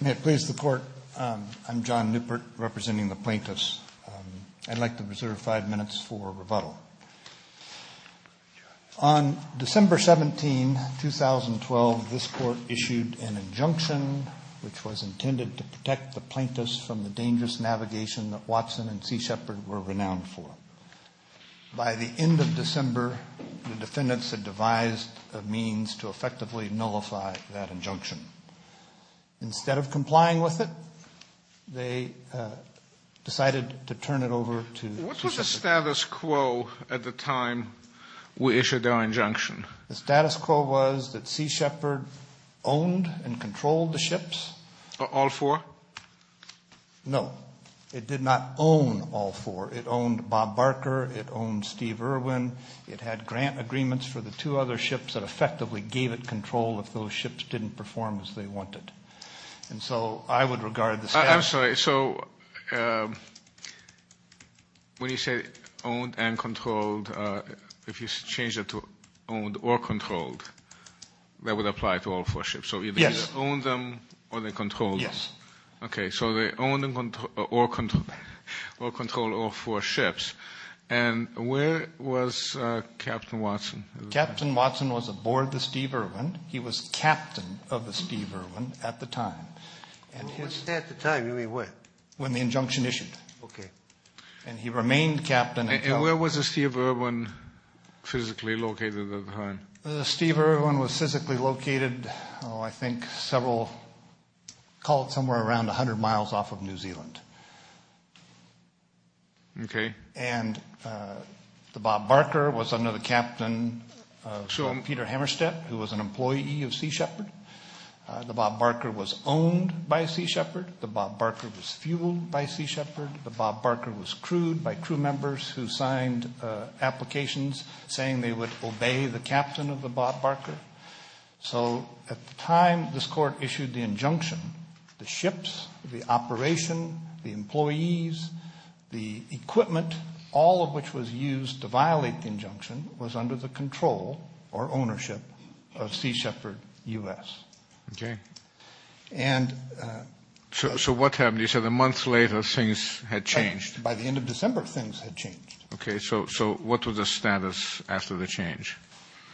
May it please the Court, I'm John Newport representing the Plaintiffs. I'd like to reserve five minutes for rebuttal. On December 17, 2012, this Court issued an injunction which was intended to protect the Plaintiffs from the dangerous navigation that Watson and Sea Shepherd were renowned for. By the end of December, the defendants had devised a means to effectively nullify that injunction. Instead of complying with it, they decided to turn it over to Sea Shepherd. What was the status quo at the time we issued our injunction? The status quo was that Sea Shepherd owned and controlled the ships. All four? No, it did not own all four. It had grant agreements for the two other ships that effectively gave it control if those ships didn't perform as they wanted. And so I would regard the status quo... I'm sorry, so when you say owned and controlled, if you change it to owned or controlled, that would apply to all four ships? Yes. So either they owned them or they controlled them? Yes. Okay, so they owned or controlled all four ships. And where was Captain Watson? Captain Watson was aboard the Steve Irwin. He was captain of the Steve Irwin at the time. At the time, you mean when? When the injunction issued. Okay. And he remained captain. And where was the Steve Irwin physically located at the time? The Steve Irwin was physically located, I think, several, call it somewhere around 100 miles off of New Zealand. Okay. And the Bob Barker was under the captain of Peter Hammerstead, who was an employee of Sea Shepherd. The Bob Barker was owned by Sea Shepherd. The Bob Barker was fueled by Sea Shepherd. The Bob Barker was crewed by crew members who signed applications saying they would obey the captain of the Bob Barker. So at the time, this court issued the injunction, the ships, the operation, the employees, the equipment, all of which was used to violate the injunction was under the control or ownership of Sea Shepherd U.S. Okay. And... So what happened? You said a month later, things had changed. By the end of December, things had changed. Okay. So what was the status after the change?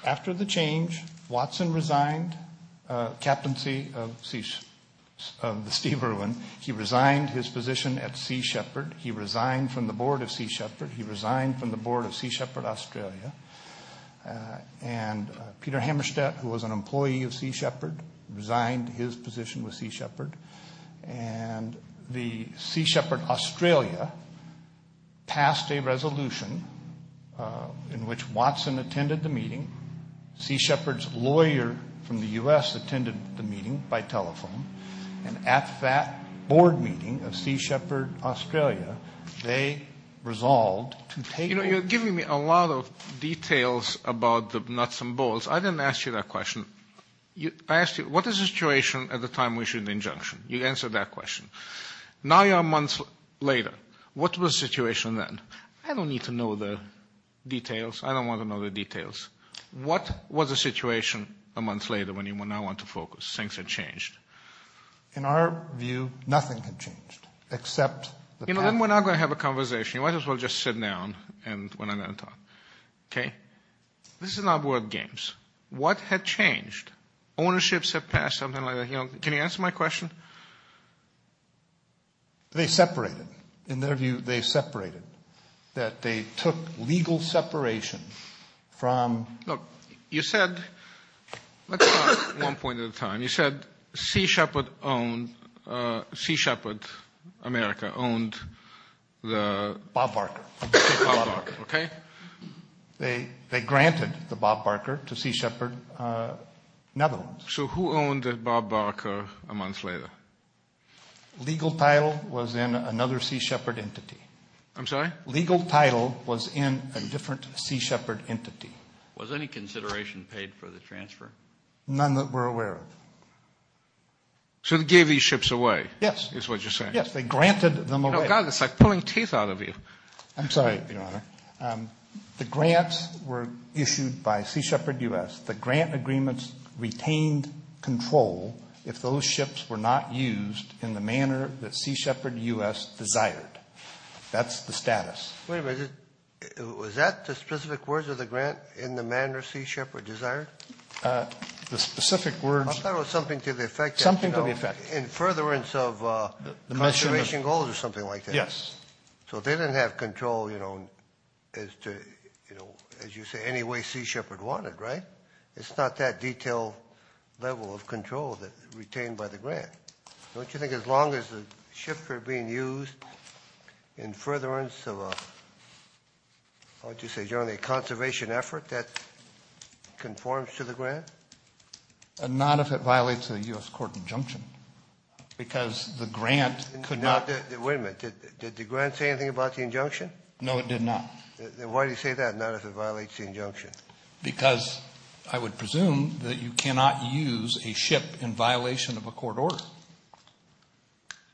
After the change, Watson resigned captaincy of the Steve Irwin. He resigned his position at Sea Shepherd. He resigned from the board of Sea Shepherd. He resigned from the board of Sea Shepherd Australia. And Peter Hammerstead, who was an Australia, passed a resolution in which Watson attended the meeting. Sea Shepherd's lawyer from the U.S. attended the meeting by telephone. And at that board meeting of Sea Shepherd Australia, they resolved to take... You know, you're giving me a lot of details about the nuts and bolts. I didn't ask you that question. I asked you, what is the situation at the time we issued the injunction? You answered that question. Now you're a month later. What was the situation then? I don't need to know the details. I don't want to know the details. What was the situation a month later when you now want to focus? Things had changed. In our view, nothing had changed, except the... You know, then we're not going to have a conversation. You might as well just sit down when I'm done talking. This is not board games. What had changed? Ownerships had passed, something like that. Can you answer my question? They separated. In their view, they separated. That they took legal separation from... Look, you said, let's start one point at a time. You said Sea Shepherd owned, Sea Shepherd America owned the... They granted the Bob Barker to Sea Shepherd Netherlands. So who owned Bob Barker a month later? Legal title was in another Sea Shepherd entity. I'm sorry? Legal title was in a different Sea Shepherd entity. Was any consideration paid for the transfer? None that we're aware of. So they gave these ships away, is what you're saying? Yes, they granted them away. Oh, God, it's like pulling teeth out of you. I'm sorry, Your Honor. The grants were issued by Sea Shepherd U.S. The grant agreements retained control if those ships were not used in the manner that Sea Shepherd U.S. desired. That's the status. Wait a minute. Was that the specific words of the grant, in the manner Sea Shepherd desired? The specific words... I thought it was something to the effect that... Something to the effect. In furtherance of conservation goals or something like that. Yes. So they didn't have control, you know, as to, you know, as you say, any way Sea Shepherd wanted, right? It's not that detailed level of control retained by the grant. Don't you think as long as the ships are being used in furtherance of a, how would you say, generally a conservation effort, that conforms to the grant? Not if it violates a U.S. court injunction. Because the grant could not... Wait a minute. Did the grant say anything about the injunction? No, it did not. Then why do you say that, not if it violates the injunction? Because I would presume that you cannot use a ship in violation of a court order.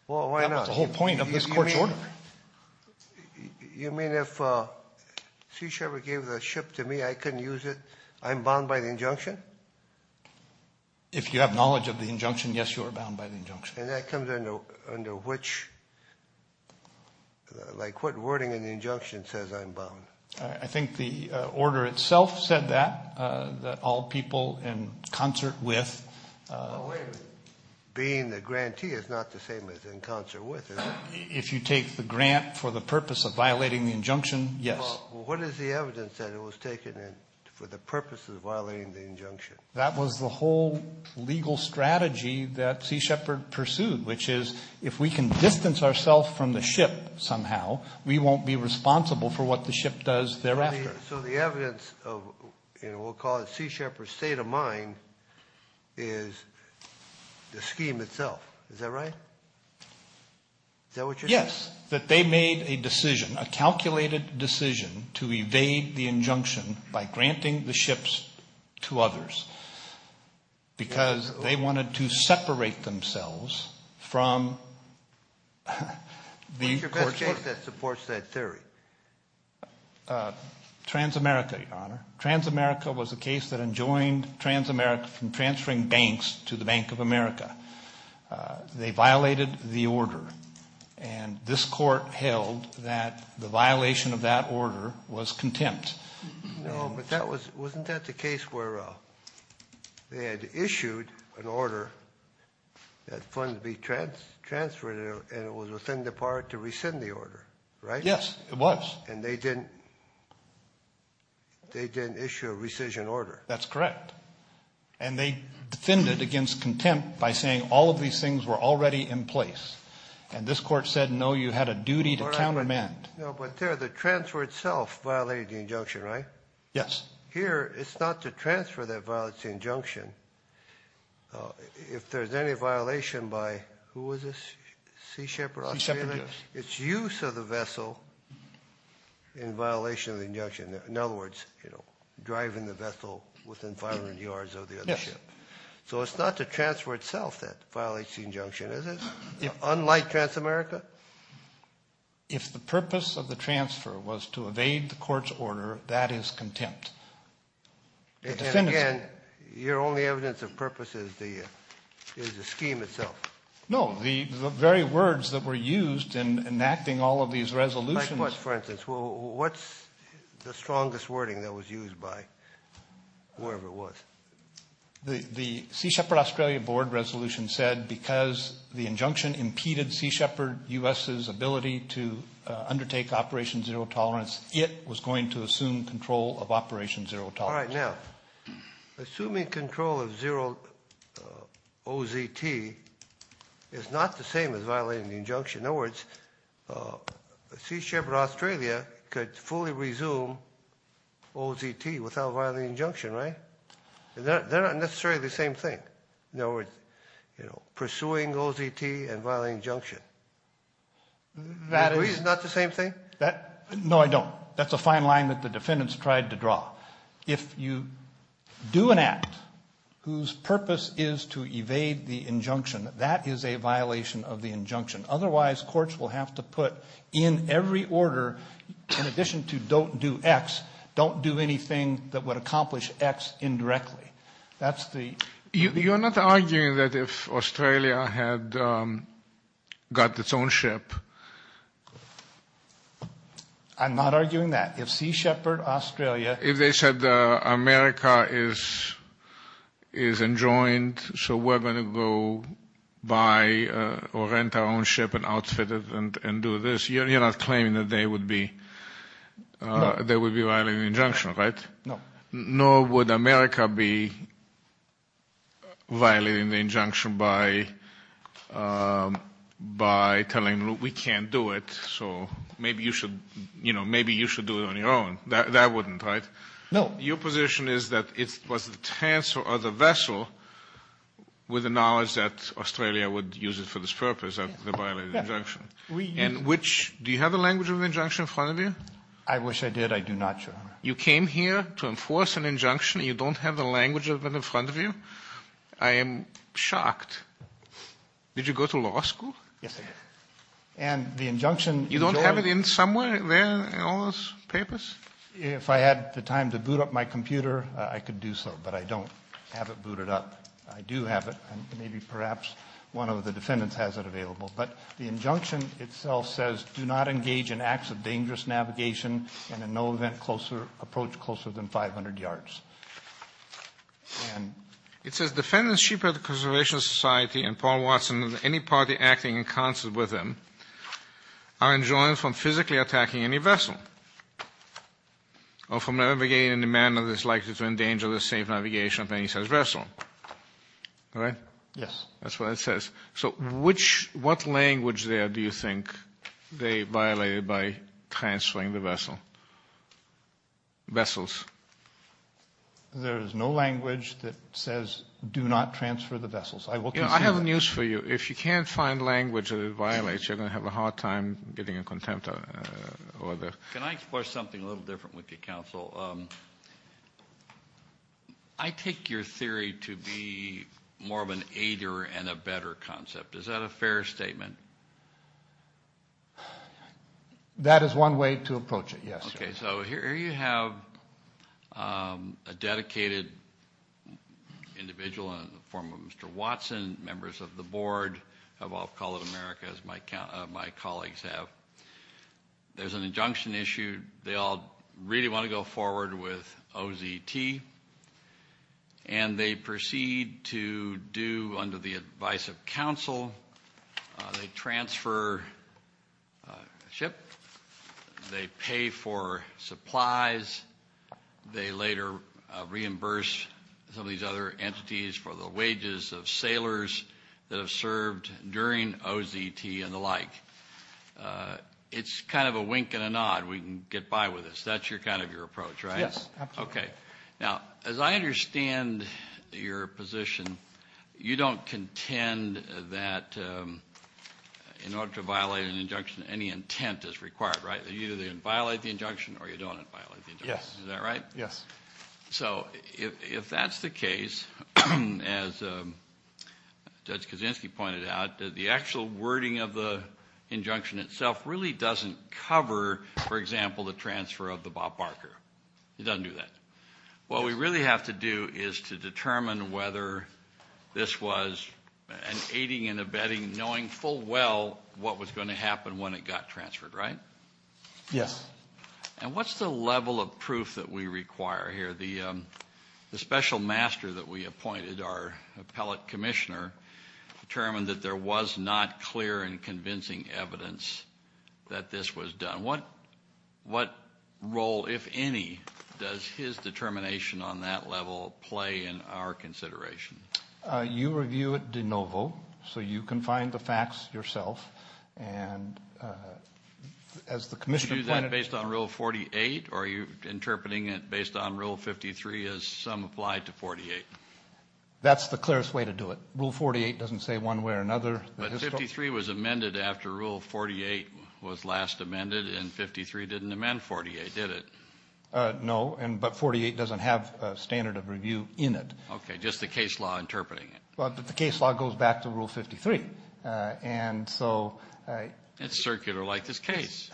Well, why not? That's the whole point of this court's order. You mean if Sea Shepherd gave the ship to me, I couldn't use it, I'm bound by the injunction? And that comes under which, like what wording in the injunction says I'm bound? I think the order itself said that, that all people in concert with... Well, wait a minute. Being the grantee is not the same as in concert with, is it? If you take the grant for the purpose of violating the injunction, yes. Well, what is the evidence that it was taken for the purpose of violating the injunction? That was the whole legal strategy that Sea Shepherd pursued, which is if we can distance ourselves from the ship somehow, we won't be responsible for what the ship does thereafter. So the evidence of what we'll call Sea Shepherd's state of mind is the scheme itself. Is that right? Is that what you're saying? Because they wanted to separate themselves from the court. What's your best case that supports that theory? Transamerica, Your Honor. Transamerica was a case that enjoined transamerica from transferring banks to the Bank of America. They violated the order, and this court held that the violation of that order was contempt. No, but wasn't that the case where they had issued an order that funds be transferred, and it was within the power to rescind the order, right? Yes, it was. And they didn't issue a rescission order. That's correct. And they defended it against contempt by saying all of these things were already in place. And this court said, no, you had a duty to countermand. No, but there, the transfer itself violated the injunction, right? Yes. Here, it's not to transfer that violated the injunction. If there's any violation by who was this? Sea Shepherd Australia? Sea Shepherd. Its use of the vessel in violation of the injunction. In other words, driving the vessel within 500 yards of the other ship. Yes. So it's not to transfer itself that violates the injunction, is it? Unlike Transamerica? If the purpose of the transfer was to evade the court's order, that is contempt. Again, your only evidence of purpose is the scheme itself. No, the very words that were used in enacting all of these resolutions. Like what, for instance? What's the strongest wording that was used by whoever it was? The Sea Shepherd Australia board resolution said, because the injunction impeded Sea Shepherd U.S.'s ability to undertake Operation Zero Tolerance, it was going to assume control of Operation Zero Tolerance. All right, now, assuming control of OZT is not the same as violating the injunction. In other words, Sea Shepherd Australia could fully resume OZT without violating the injunction, right? They're not necessarily the same thing. In other words, pursuing OZT and violating injunction. Do you agree it's not the same thing? No, I don't. That's a fine line that the defendants tried to draw. If you do an act whose purpose is to evade the injunction, that is a violation of the injunction. Otherwise, courts will have to put in every order, in addition to don't do X, don't do anything that would accomplish X indirectly. You're not arguing that if Australia had got its own ship. I'm not arguing that. If Sea Shepherd Australia. If they said America is enjoined, so we're going to go buy or rent our own ship and outfit it and do this, you're not claiming that they would be violating the injunction, right? No. Nor would America be violating the injunction by telling them we can't do it, so maybe you should do it on your own. That wouldn't, right? No. Your position is that it was the tanser or the vessel with the knowledge that Australia would use it for this purpose, and which, do you have the language of injunction in front of you? I wish I did. I do not, Your Honor. You came here to enforce an injunction. You don't have the language of it in front of you. I am shocked. Did you go to law school? Yes, I did. And the injunction. You don't have it in somewhere there in all those papers? If I had the time to boot up my computer, I could do so, but I don't have it booted up. I do have it. Maybe perhaps one of the defendants has it available, but the injunction itself says do not engage in acts of dangerous navigation and in no event approach closer than 500 yards. It says, Defendants, Chief of the Conservation Society and Paul Watson and any party acting in concert with him are enjoined from physically attacking any vessel or from navigating in a manner that is likely to endanger the safe navigation of any such vessel. All right? Yes. That's what it says. So what language there do you think they violated by transferring the vessel? Vessels. There is no language that says do not transfer the vessels. I will consider that. I have news for you. If you can't find language that it violates, you're going to have a hard time getting a contempt order. Can I explore something a little different with you, Counsel? I take your theory to be more of an aider and a better concept. Is that a fair statement? That is one way to approach it, yes. Okay. So here you have a dedicated individual in the form of Mr. Watson, members of the board of All Call of America, as my colleagues have. There's an injunction issued. They all really want to go forward with OZT, and they proceed to do under the advice of counsel. They transfer a ship. They pay for supplies. They later reimburse some of these other entities for the wages of sailors that have served during OZT and the like. It's kind of a wink and a nod. We can get by with this. That's kind of your approach, right? Yes, absolutely. Okay. Now, as I understand your position, you don't contend that in order to violate an injunction, any intent is required, right? You either violate the injunction or you don't violate the injunction. Is that right? Yes. So if that's the case, as Judge Kaczynski pointed out, the actual wording of the injunction itself really doesn't cover, for example, the transfer of the Bob Barker. It doesn't do that. What we really have to do is to determine whether this was an aiding and abetting, knowing full well what was going to happen when it got transferred, right? Yes. And what's the level of proof that we require here? The special master that we appointed, our appellate commissioner, determined that there was not clear and convincing evidence that this was done. What role, if any, does his determination on that level play in our consideration? You review it de novo so you can find the facts yourself. And as the commissioner pointed out ---- Did you do that based on Rule 48 or are you interpreting it based on Rule 53 as some applied to 48? That's the clearest way to do it. Rule 48 doesn't say one way or another. But 53 was amended after Rule 48 was last amended and 53 didn't amend 48, did it? No, but 48 doesn't have a standard of review in it. Okay, just the case law interpreting it. The case law goes back to Rule 53. It's circular like this case.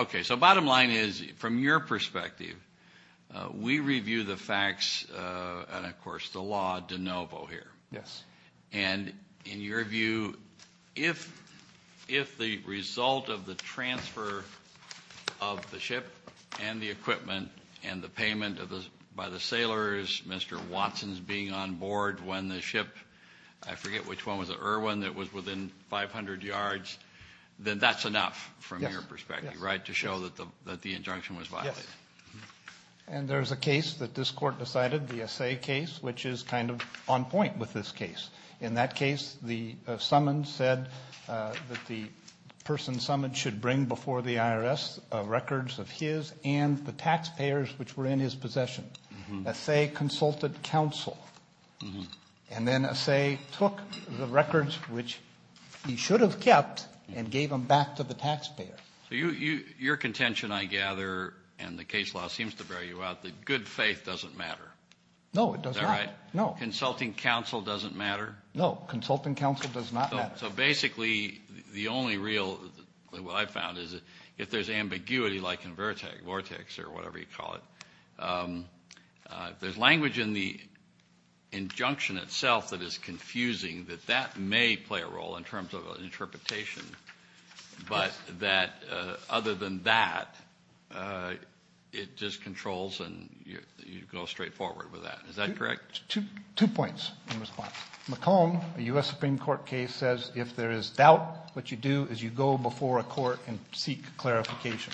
Okay, so bottom line is, from your perspective, we review the facts and, of course, the law de novo here. Yes. And in your view, if the result of the transfer of the ship and the equipment and the payment by the sailors, Mr. Watson's being on board when the ship, I forget which one was it, Irwin, that was within 500 yards, then that's enough from your perspective, right, to show that the injunction was violated? Yes. And there's a case that this Court decided, the Assay case, which is kind of on point with this case. In that case, the summons said that the person summoned should bring before the IRS records of his and the taxpayers which were in his possession. Assay consulted counsel. And then Assay took the records which he should have kept and gave them back to the taxpayer. So your contention, I gather, and the case law seems to bear you out, that good faith doesn't matter. No, it does not. Is that right? No. Consulting counsel doesn't matter? No. Consulting counsel does not matter. So basically the only real, what I've found, is if there's ambiguity like in Vortex or whatever you call it, there's language in the injunction itself that is confusing that that may play a role in terms of an interpretation, but that other than that, it just controls and you go straight forward with that. Is that correct? Two points in response. McComb, a U.S. Supreme Court case, says if there is doubt, what you do is you go before a court and seek clarification.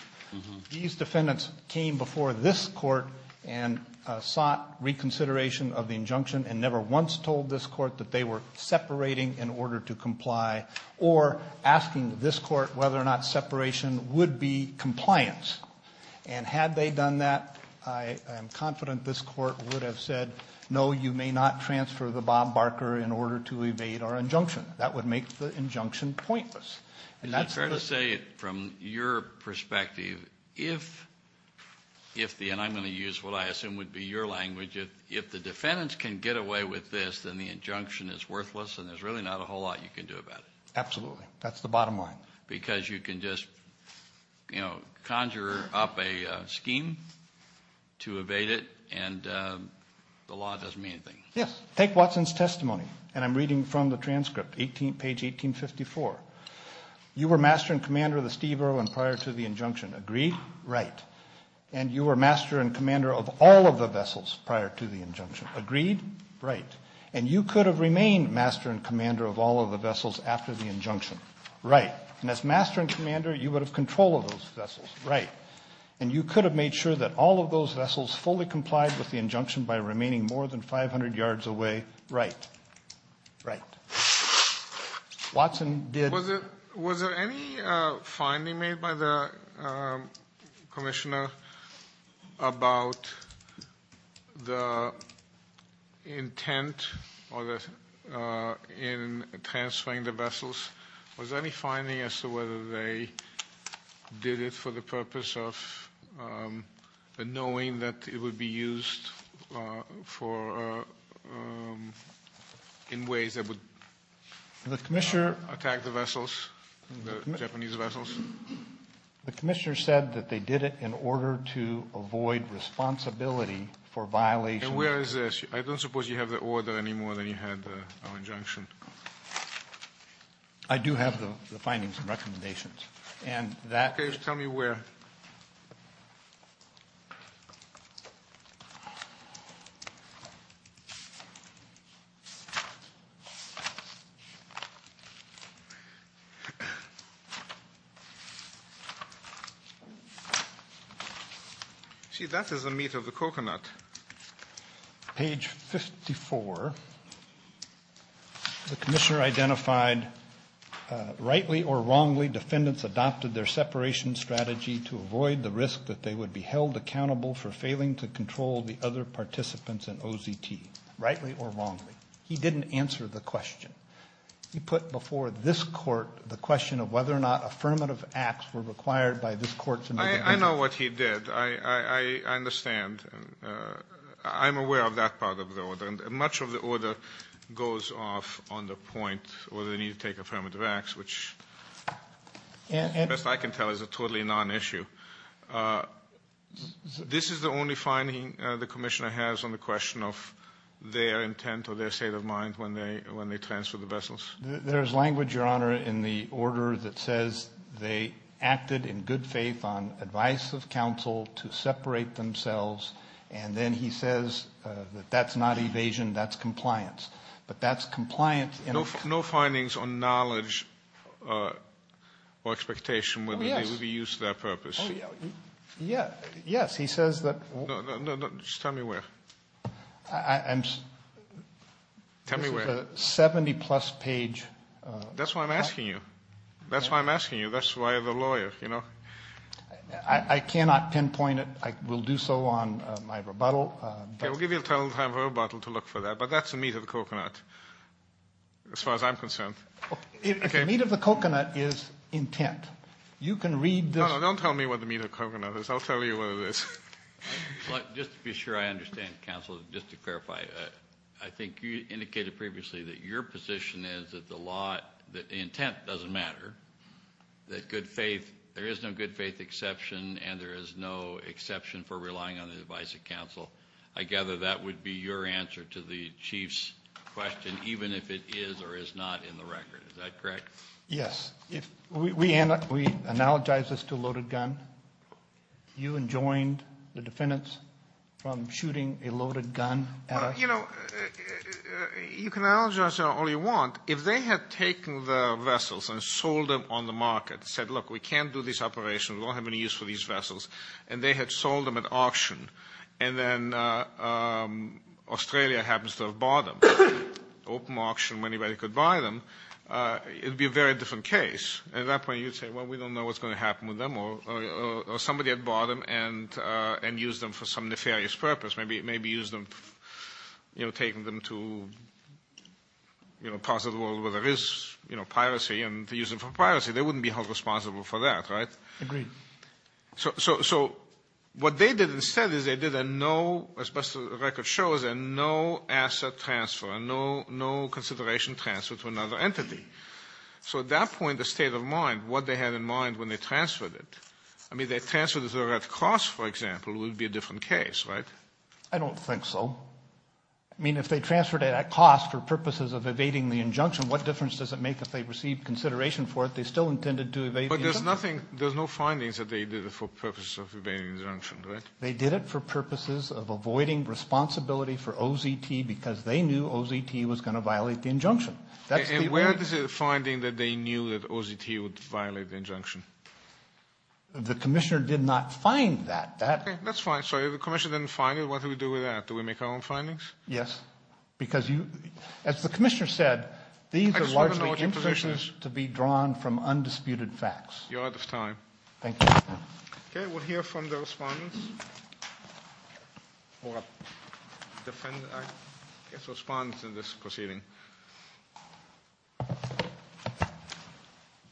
These defendants came before this Court and sought reconsideration of the injunction and never once told this Court that they were separating in order to comply or asking this Court whether or not separation would be compliance. And had they done that, I am confident this Court would have said, no, you may not transfer the Bob Barker in order to evade our injunction. That would make the injunction pointless. Is it fair to say, from your perspective, if the, and I'm going to use what I assume would be your language, if the defendants can get away with this, then the injunction is worthless and there's really not a whole lot you can do about it? Absolutely. That's the bottom line. Because you can just, you know, conjure up a scheme to evade it and the law doesn't mean anything. Yes. Take Watson's testimony, and I'm reading from the transcript, page 1854. You were master and commander of the Steve Irwin prior to the injunction. Agree? Right. And you were master and commander of all of the vessels prior to the injunction. Agreed? Right. And you could have remained master and commander of all of the vessels after the injunction. Right. And as master and commander, you would have control of those vessels. Right. And you could have made sure that all of those vessels fully complied with the injunction by remaining more than 500 yards away. Right. Right. Watson did. Was there any finding made by the commissioner about the intent in transferring the vessels? Was there any finding as to whether they did it for the purpose of knowing that it would be used in ways that would attack the vessels? The Japanese vessels? The commissioner said that they did it in order to avoid responsibility for violations. And where is this? I don't suppose you have the order any more than you had our injunction. I do have the findings and recommendations. Tell me where. See, that is the meat of the coconut. Page 54. The commissioner identified, rightly or wrongly, defendants adopted their separation strategy to avoid the risk that they would be held accountable for failing to control the other participants in OZT. Rightly or wrongly. He didn't answer the question. He put before this Court the question of whether or not affirmative acts were required by this Court to make a decision. I know what he did. I understand. I'm aware of that part of the order. Much of the order goes off on the point whether they need to take affirmative acts, which, best I can tell, is a totally non-issue. This is the only finding the commissioner has on the question of their intent or their state of mind when they transferred the vessels? There is language, Your Honor, in the order that says they acted in good faith on advice of counsel to separate themselves, and then he says that that's not evasion, that's compliance. But that's compliance. No findings on knowledge or expectation whether they would be used to that purpose? Yes. He says that. No, no, no. Just tell me where. Tell me where. It's a 70-plus page. That's why I'm asking you. That's why I'm asking you. That's why the lawyer, you know. I cannot pinpoint it. I will do so on my rebuttal. Okay. We'll give you a total time of rebuttal to look for that, but that's the meat of the coconut as far as I'm concerned. If the meat of the coconut is intent, you can read this. No, no. Don't tell me what the meat of the coconut is. I'll tell you what it is. Just to be sure I understand, counsel, just to clarify, I think you indicated previously that your position is that the intent doesn't matter, that there is no good faith exception, and there is no exception for relying on the advice of counsel. I gather that would be your answer to the chief's question, even if it is or is not in the record. Is that correct? Yes. We analogize this to a loaded gun. You enjoined the defendants from shooting a loaded gun at us. You know, you can analogize it all you want. If they had taken the vessels and sold them on the market and said, look, we can't do these operations, we don't have any use for these vessels, and they had sold them at auction, and then Australia happens to have bought them, open auction when anybody could buy them, it would be a very different case. At that point you'd say, well, we don't know what's going to happen with them, or somebody had bought them and used them for some nefarious purpose, maybe used them, you know, taken them to parts of the world where there is, you know, piracy and used them for piracy. They wouldn't be held responsible for that, right? Agreed. So what they did instead is they did a no, as best the record shows, a no asset transfer, a no consideration transfer to another entity. So at that point, the state of mind, what they had in mind when they transferred it, I mean, they transferred it at cost, for example, it would be a different case, right? I don't think so. I mean, if they transferred it at cost for purposes of evading the injunction, what difference does it make if they received consideration for it, they still intended to evade the injunction. But there's nothing, there's no findings that they did it for purposes of evading the injunction, right? They did it for purposes of avoiding responsibility for OZT because they knew OZT was going to violate the injunction. And where is the finding that they knew that OZT would violate the injunction? The commissioner did not find that. That's fine. So if the commissioner didn't find it, what do we do with that? Do we make our own findings? Yes. Because you, as the commissioner said, these are largely inferences to be drawn from undisputed facts. You're out of time. Thank you. Okay, we'll hear from the respondents. I guess respond to this proceeding.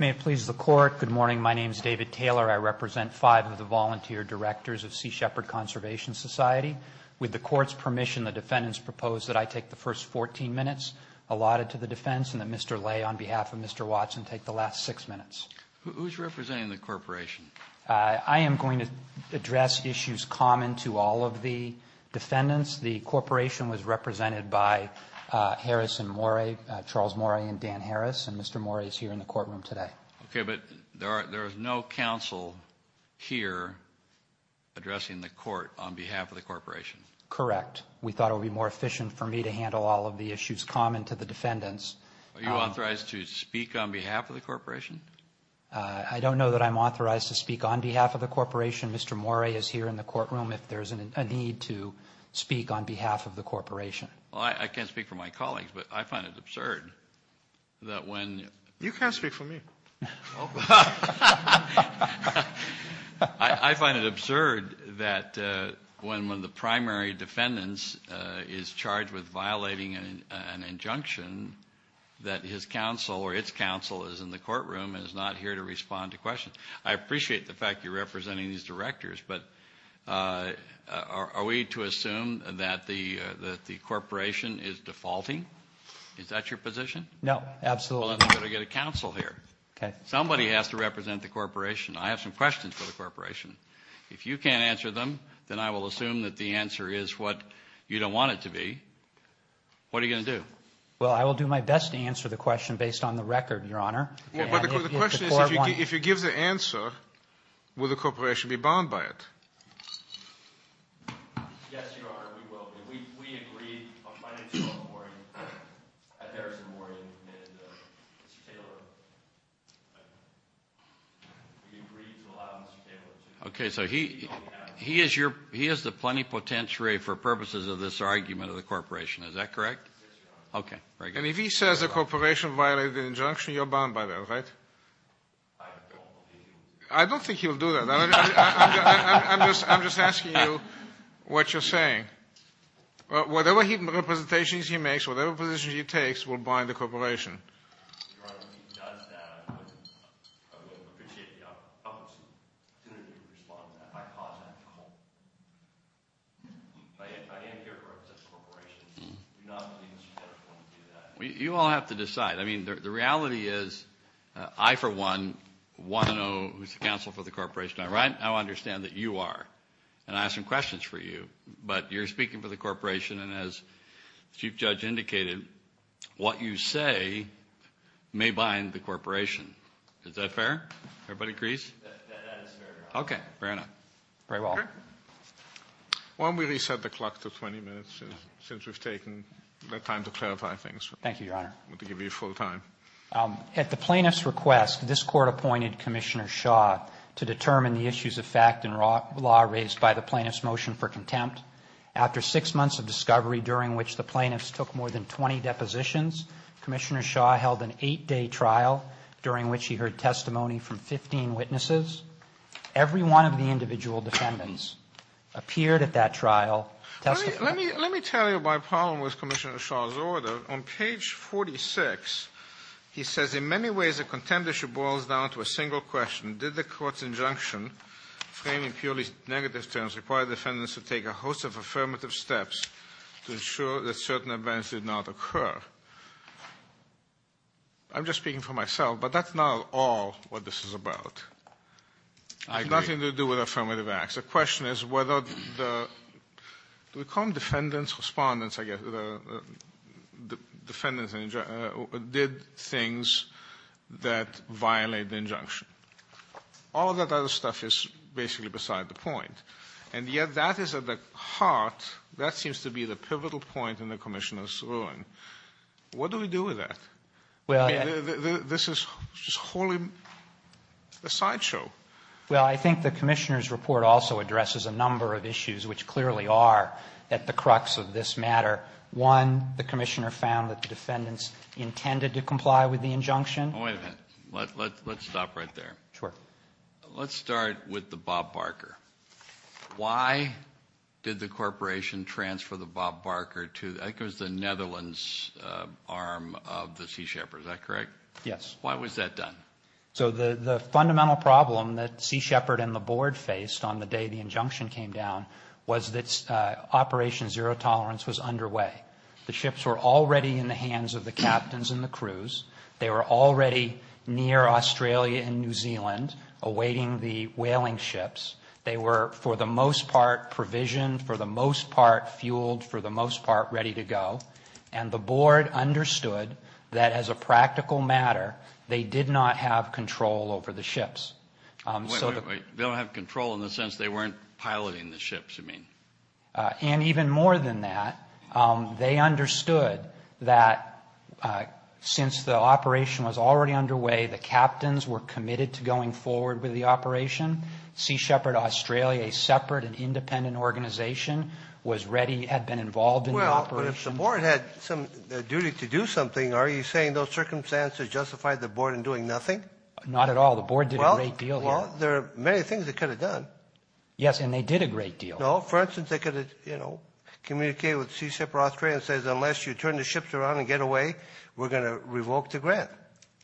May it please the Court. Good morning. My name is David Taylor. I represent five of the volunteer directors of Sea Shepherd Conservation Society. With the Court's permission, the defendants propose that I take the first 14 minutes allotted to the defense and that Mr. Lay, on behalf of Mr. Watson, take the last six minutes. Who's representing the corporation? I am going to address issues common to all of the defendants. The corporation was represented by Harris and Morey, Charles Morey and Dan Harris, and Mr. Morey is here in the courtroom today. Okay, but there is no counsel here addressing the court on behalf of the corporation. Correct. We thought it would be more efficient for me to handle all of the issues common to the defendants. Are you authorized to speak on behalf of the corporation? I don't know that I'm authorized to speak on behalf of the corporation. Mr. Morey is here in the courtroom if there's a need to speak on behalf of the corporation. Well, I can't speak for my colleagues, but I find it absurd that when— You can speak for me. I find it absurd that when one of the primary defendants is charged with violating an injunction, that his counsel or its counsel is in the courtroom and is not here to respond to questions. I appreciate the fact you're representing these directors, but are we to assume that the corporation is defaulting? Is that your position? No, absolutely not. Well, then we've got to get a counsel here. Somebody has to represent the corporation. I have some questions for the corporation. If you can't answer them, then I will assume that the answer is what you don't want it to be. What are you going to do? Well, I will do my best to answer the question based on the record, Your Honor. But the question is if you give the answer, will the corporation be bound by it? Yes, Your Honor, we will be. We agreed on Friday morning, Thursday morning, Mr. Taylor. We agreed to allow Mr. Taylor to. Okay, so he has the plenipotentiary for purposes of this argument of the corporation. Is that correct? Yes, Your Honor. Okay, very good. And if he says the corporation violated an injunction, you're bound by that, right? I don't believe you. I don't think he'll do that. I'm just asking you what you're saying. Whatever representations he makes, whatever position he takes will bind the corporation. Your Honor, if he does that, I would appreciate the opportunity to respond to that. I cause that trouble. I am here to represent the corporation. I do not believe Mr. Taylor is going to do that. You all have to decide. I mean, the reality is I, for one, want to know who's the counsel for the corporation. I understand that you are, and I have some questions for you. But you're speaking for the corporation, and as the Chief Judge indicated, what you say may bind the corporation. Is that fair? Everybody agrees? That is fair, Your Honor. Okay, fair enough. Very well. Okay. Why don't we reset the clock to 20 minutes since we've taken the time to clarify things. Thank you, Your Honor. I'm going to give you full time. At the plaintiff's request, this Court appointed Commissioner Shaw to determine the issues of fact and law raised by the plaintiff's motion for contempt. After six months of discovery during which the plaintiffs took more than 20 depositions, Commissioner Shaw held an eight-day trial during which he heard testimony from 15 witnesses. Every one of the individual defendants appeared at that trial testifying. Let me tell you my problem with Commissioner Shaw's order. On page 46, he says, In many ways, the contempt issue boils down to a single question. Did the Court's injunction, framing purely negative terms, require defendants to take a host of affirmative steps to ensure that certain events did not occur? I'm just speaking for myself, but that's not at all what this is about. I agree. It has nothing to do with affirmative acts. The question is whether the defendants did things that violate the injunction. All of that other stuff is basically beside the point. And yet that is at the heart, that seems to be the pivotal point in the Commissioner's ruling. What do we do with that? This is wholly a sideshow. Well, I think the Commissioner's report also addresses a number of issues, which clearly are at the crux of this matter. One, the Commissioner found that the defendants intended to comply with the injunction. Wait a minute. Let's stop right there. Sure. Let's start with the Bob Barker. Why did the Corporation transfer the Bob Barker to, I think it was the Netherlands arm of the Sea Shepherd, is that correct? Yes. Why was that done? So the fundamental problem that Sea Shepherd and the Board faced on the day the injunction came down was that Operation Zero Tolerance was underway. The ships were already in the hands of the captains and the crews. They were already near Australia and New Zealand awaiting the whaling ships. They were, for the most part, provisioned, for the most part, fueled, for the most part, ready to go. And the Board understood that, as a practical matter, they did not have control over the ships. Wait, wait, wait. They don't have control in the sense they weren't piloting the ships, you mean? And even more than that, they understood that since the operation was already underway, the captains were committed to going forward with the operation. Sea Shepherd Australia, a separate and independent organization, was ready, had been involved in the operation. But if the Board had some duty to do something, are you saying those circumstances justified the Board in doing nothing? Not at all. The Board did a great deal there. Well, there are many things they could have done. Yes, and they did a great deal. No, for instance, they could have, you know, communicated with Sea Shepherd Australia and said, unless you turn the ships around and get away, we're going to revoke the grant.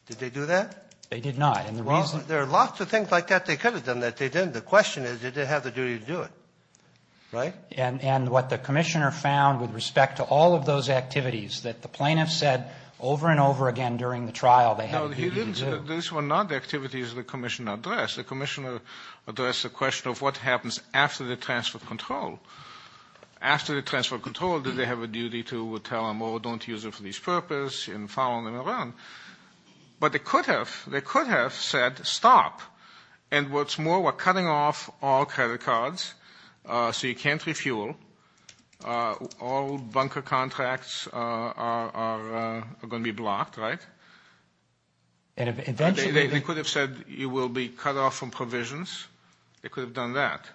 Did they do that? They did not. Well, there are lots of things like that they could have done that they didn't. The question is, did they have the duty to do it, right? And what the commissioner found with respect to all of those activities that the plaintiffs said over and over again during the trial, they had the duty to do. No, these were not activities the commissioner addressed. The commissioner addressed the question of what happens after the transfer of control. After the transfer of control, did they have a duty to tell them, oh, don't use it for this purpose, and following them around? But they could have. They could have said, stop. And what's more, we're cutting off all credit cards, so you can't refuel. All bunker contracts are going to be blocked, right? They could have said you will be cut off from provisions. They could have done that.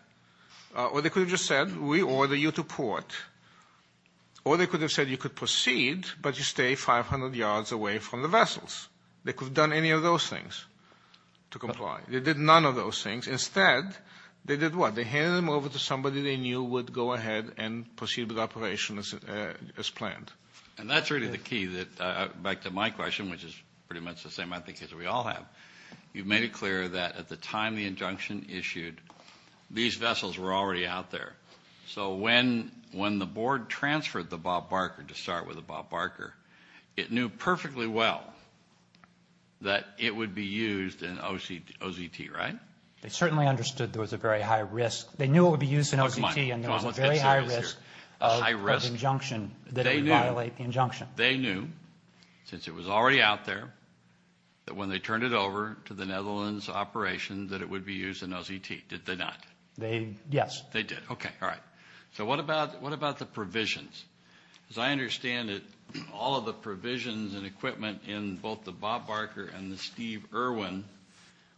Or they could have just said, we order you to port. Or they could have said you could proceed, but you stay 500 yards away from the vessels. They could have done any of those things to comply. They did none of those things. Instead, they did what? They handed them over to somebody they knew would go ahead and proceed with the operation as planned. And that's really the key, back to my question, which is pretty much the same, I think, as we all have. You've made it clear that at the time the injunction issued, these vessels were already out there. So when the board transferred the Bob Barker, to start with the Bob Barker, it knew perfectly well that it would be used in OZT, right? They certainly understood there was a very high risk. They knew it would be used in OZT, and there was a very high risk of injunction that would violate the injunction. They knew, since it was already out there, that when they turned it over to the Netherlands operation that it would be used in OZT. Did they not? Yes. They did. Okay, all right. So what about the provisions? As I understand it, all of the provisions and equipment in both the Bob Barker and the Steve Irwin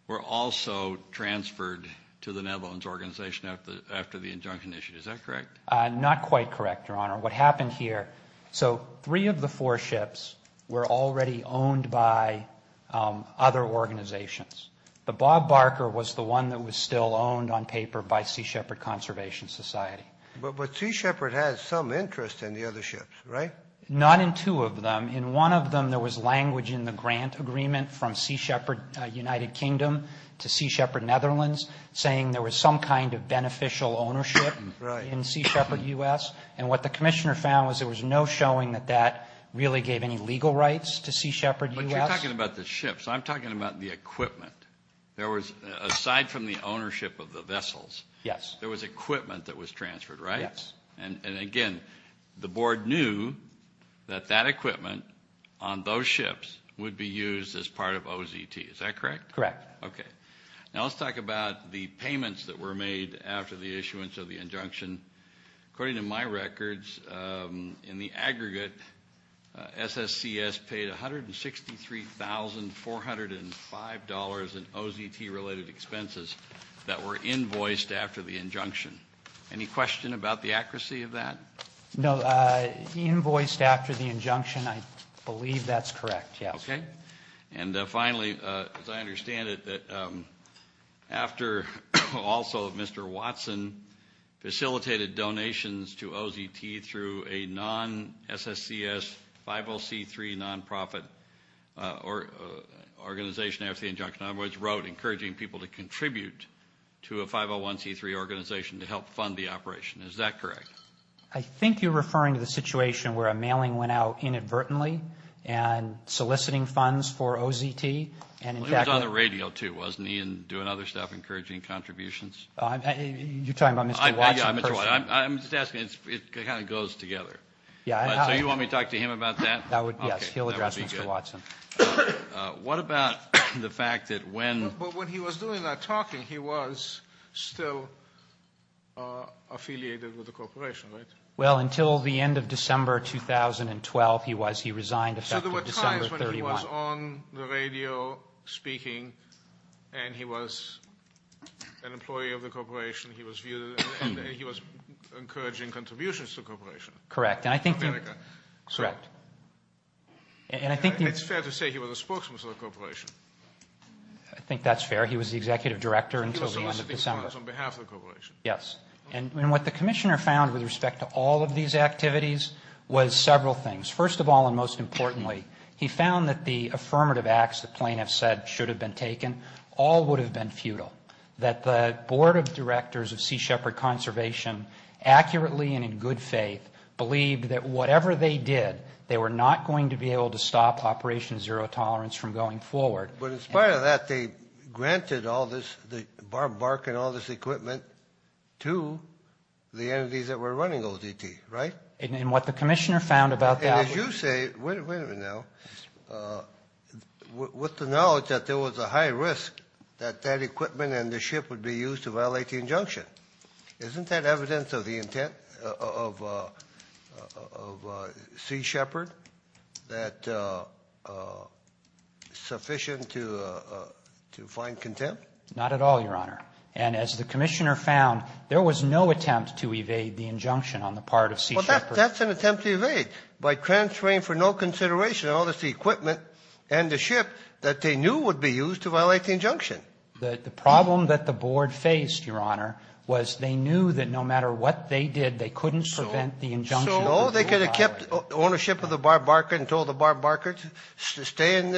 were also transferred to the Netherlands organization after the injunction issued. Is that correct? Not quite correct, Your Honor. What happened here, so three of the four ships were already owned by other organizations. The Bob Barker was the one that was still owned on paper by Sea Shepherd Conservation Society. But Sea Shepherd has some interest in the other ships, right? Not in two of them. In one of them, there was language in the grant agreement from Sea Shepherd United Kingdom to Sea Shepherd Netherlands saying there was some kind of beneficial ownership in Sea Shepherd U.S., and what the commissioner found was there was no showing that that really gave any legal rights to Sea Shepherd U.S. But you're talking about the ships. I'm talking about the equipment. There was, aside from the ownership of the vessels, there was equipment that was transferred, right? Yes. And again, the board knew that that equipment on those ships would be used as part of OZT. Is that correct? Correct. Okay. Now let's talk about the payments that were made after the issuance of the injunction. According to my records, in the aggregate, SSCS paid $163,405 in OZT-related expenses that were invoiced after the injunction. Any question about the accuracy of that? No. Invoiced after the injunction, I believe that's correct, yes. Okay. And finally, as I understand it, after also Mr. Watson facilitated donations to OZT through a non-SSCS 50C3 nonprofit organization after the injunction, in other words, wrote encouraging people to contribute to a 501C3 organization to help fund the operation. Is that correct? I think you're referring to the situation where a mailing went out inadvertently and soliciting funds for OZT. It was on the radio, too, wasn't he, and doing other stuff, encouraging contributions? You're talking about Mr. Watson personally? I'm just asking. It kind of goes together. So you want me to talk to him about that? Yes. He'll address Mr. Watson. What about the fact that when – He was still affiliated with the corporation, right? Well, until the end of December 2012, he was. He resigned effective December 31. So there were times when he was on the radio speaking and he was an employee of the corporation. He was viewed – he was encouraging contributions to the corporation. Correct. And I think the – America. Correct. And I think the – It's fair to say he was a spokesman for the corporation. I think that's fair. He was the executive director until the end of December. He was soliciting funds on behalf of the corporation. Yes. And what the commissioner found with respect to all of these activities was several things. First of all, and most importantly, he found that the affirmative acts the plaintiffs said should have been taken all would have been futile, that the board of directors of Sea Shepherd Conservation accurately and in good faith believed that whatever they did, they were not going to be able to stop Operation Zero Tolerance from going forward. But in spite of that, they granted all this – barking all this equipment to the entities that were running OTT, right? And what the commissioner found about that was – And as you say – wait a minute now. With the knowledge that there was a high risk that that equipment and the ship would be used to violate the injunction, isn't that evidence of the intent of Sea Shepherd that sufficient to find contempt? Not at all, Your Honor. And as the commissioner found, there was no attempt to evade the injunction on the part of Sea Shepherd. Well, that's an attempt to evade by transferring for no consideration all this equipment and the ship that they knew would be used to violate the injunction. The problem that the board faced, Your Honor, was they knew that no matter what they did, they couldn't prevent the injunction. So they could have kept ownership of the barbarker and told the barbarker to stay in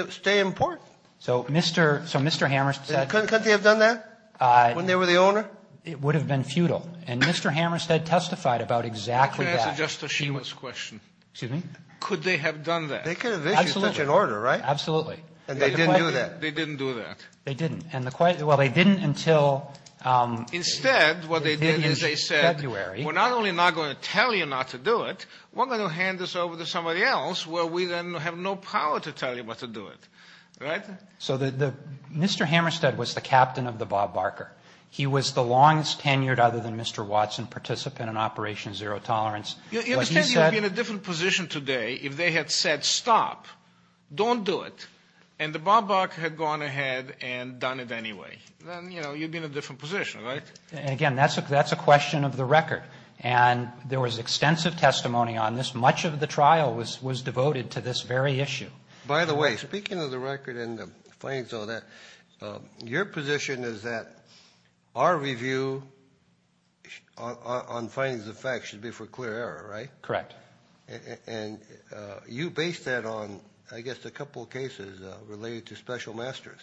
port. So Mr. Hammerstedt – Couldn't they have done that when they were the owner? It would have been futile. And Mr. Hammerstedt testified about exactly that. Can I answer Justice Schiema's question? Excuse me? Could they have done that? They could have issued such an order, right? Absolutely. And they didn't do that? They didn't do that. They didn't. And the – well, they didn't until – Instead, what they did is they said, we're not only not going to tell you not to do it, we're going to hand this over to somebody else where we then have no power to tell you what to do it. Right? So the – Mr. Hammerstedt was the captain of the barbarker. He was the longest tenured, other than Mr. Watson, participant in Operation Zero Tolerance. What he said – Then, you know, you'd be in a different position, right? Again, that's a question of the record. And there was extensive testimony on this. Much of the trial was devoted to this very issue. By the way, speaking of the record and the findings of that, your position is that our review on findings of facts should be for clear error, right? Correct. And you based that on, I guess, a couple of cases related to special masters,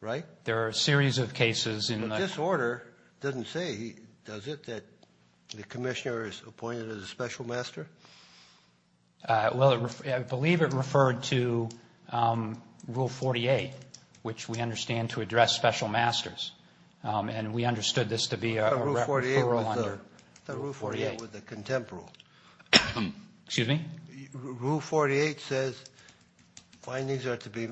right? There are a series of cases in the – But this order doesn't say, does it, that the commissioner is appointed as a special master? Well, I believe it referred to Rule 48, which we understand to address special masters. And we understood this to be a referral under – Excuse me? Rule 48 says findings are to be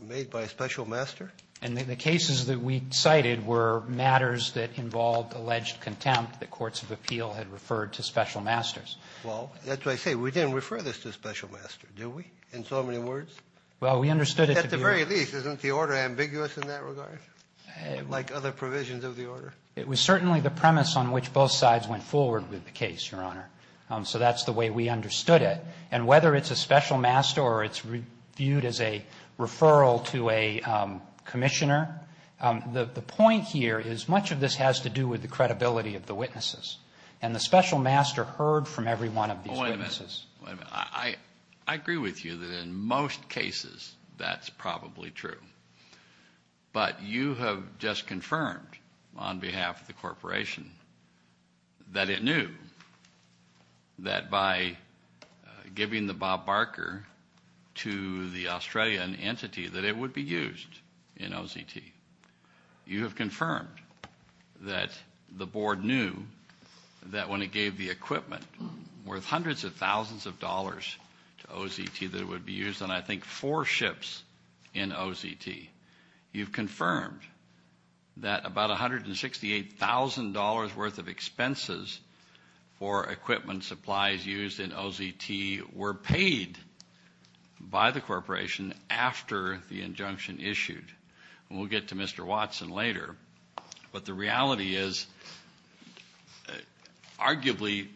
made by a special master? And the cases that we cited were matters that involved alleged contempt that courts of appeal had referred to special masters. Well, that's what I say. We didn't refer this to a special master, did we, in so many words? Well, we understood it to be – At the very least, isn't the order ambiguous in that regard, like other provisions of the order? It was certainly the premise on which both sides went forward with the case, Your Honor. So that's the way we understood it. And whether it's a special master or it's viewed as a referral to a commissioner, the point here is much of this has to do with the credibility of the witnesses. And the special master heard from every one of these witnesses. Wait a minute. I agree with you that in most cases that's probably true. But you have just confirmed on behalf of the corporation that it knew that by giving the Bob Barker to the Australian entity that it would be used in OZT. You have confirmed that the board knew that when it gave the equipment worth hundreds of thousands of dollars to OZT that it would be used on, I think, four ships in OZT. You've confirmed that about $168,000 worth of expenses for equipment supplies used in OZT were paid by the corporation after the injunction issued. And we'll get to Mr. Watson later. But the reality is arguably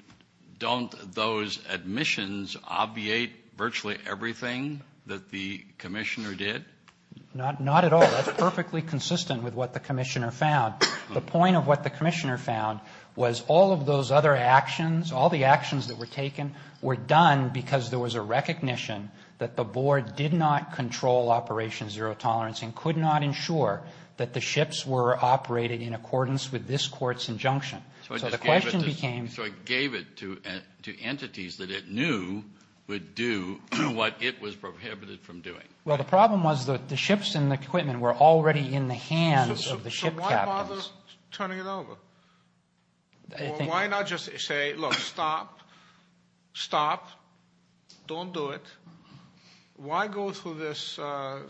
don't those admissions obviate virtually everything that the commissioner did? Not at all. That's perfectly consistent with what the commissioner found. The point of what the commissioner found was all of those other actions, all the actions that were taken were done because there was a recognition that the board did not control Operation Zero Tolerance and could not ensure that the ships were operated in accordance with this court's injunction. So the question became. So it gave it to entities that it knew would do what it was prohibited from doing. Well, the problem was that the ships and the equipment were already in the hands of the ship captains. So why bother turning it over? Why not just say, look, stop, stop, don't do it. Why go through this sort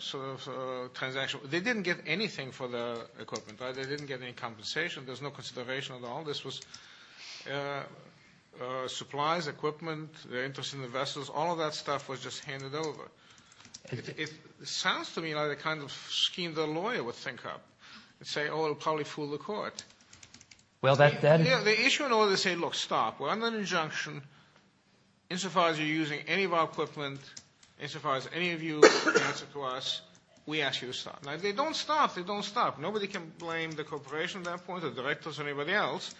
of transaction? They didn't get anything for the equipment. They didn't get any compensation. There's no consideration at all. This was supplies, equipment, the interest in the vessels. All of that stuff was just handed over. It sounds to me like the kind of scheme the lawyer would think up and say, oh, it will probably fool the court. Well, that then. The issue in order to say, look, stop. We're under an injunction. Insofar as you're using any of our equipment, insofar as any of you answer to us, we ask you to stop. Now, if they don't stop, they don't stop. Nobody can blame the corporation at that point or directors or anybody else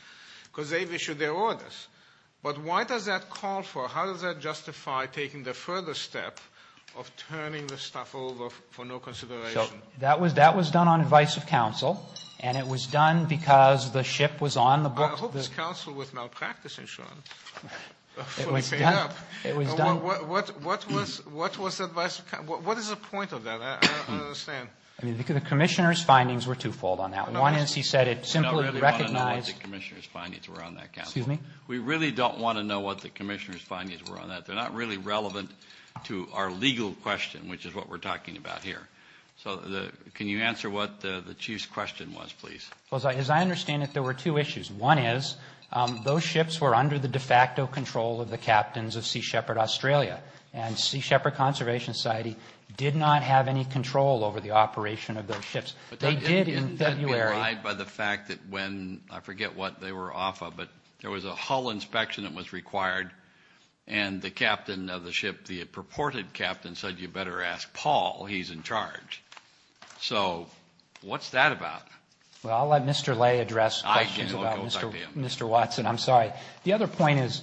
because they've issued their orders. But why does that call for, how does that justify taking the further step of turning this stuff over for no consideration? So that was done on advice of counsel, and it was done because the ship was on the book. I hope this counsel was now practicing, Sean, fully paid up. It was done. What is the point of that? I don't understand. I mean, the commissioner's findings were twofold on that. One is he said it simply recognized. We don't really want to know what the commissioner's findings were on that, counsel. Excuse me? We really don't want to know what the commissioner's findings were on that. They're not really relevant to our legal question, which is what we're talking about here. So can you answer what the chief's question was, please? Well, as I understand it, there were two issues. One is those ships were under the de facto control of the captains of Sea Shepherd Australia, and Sea Shepherd Conservation Society did not have any control over the operation of those ships. They did in February. But isn't that implied by the fact that when, I forget what they were off of, but there was a hull inspection that was required, and the captain of the ship, the purported captain said you better ask Paul, he's in charge. So what's that about? Well, I'll let Mr. Lay address questions about Mr. Watson. I'm sorry. The other point is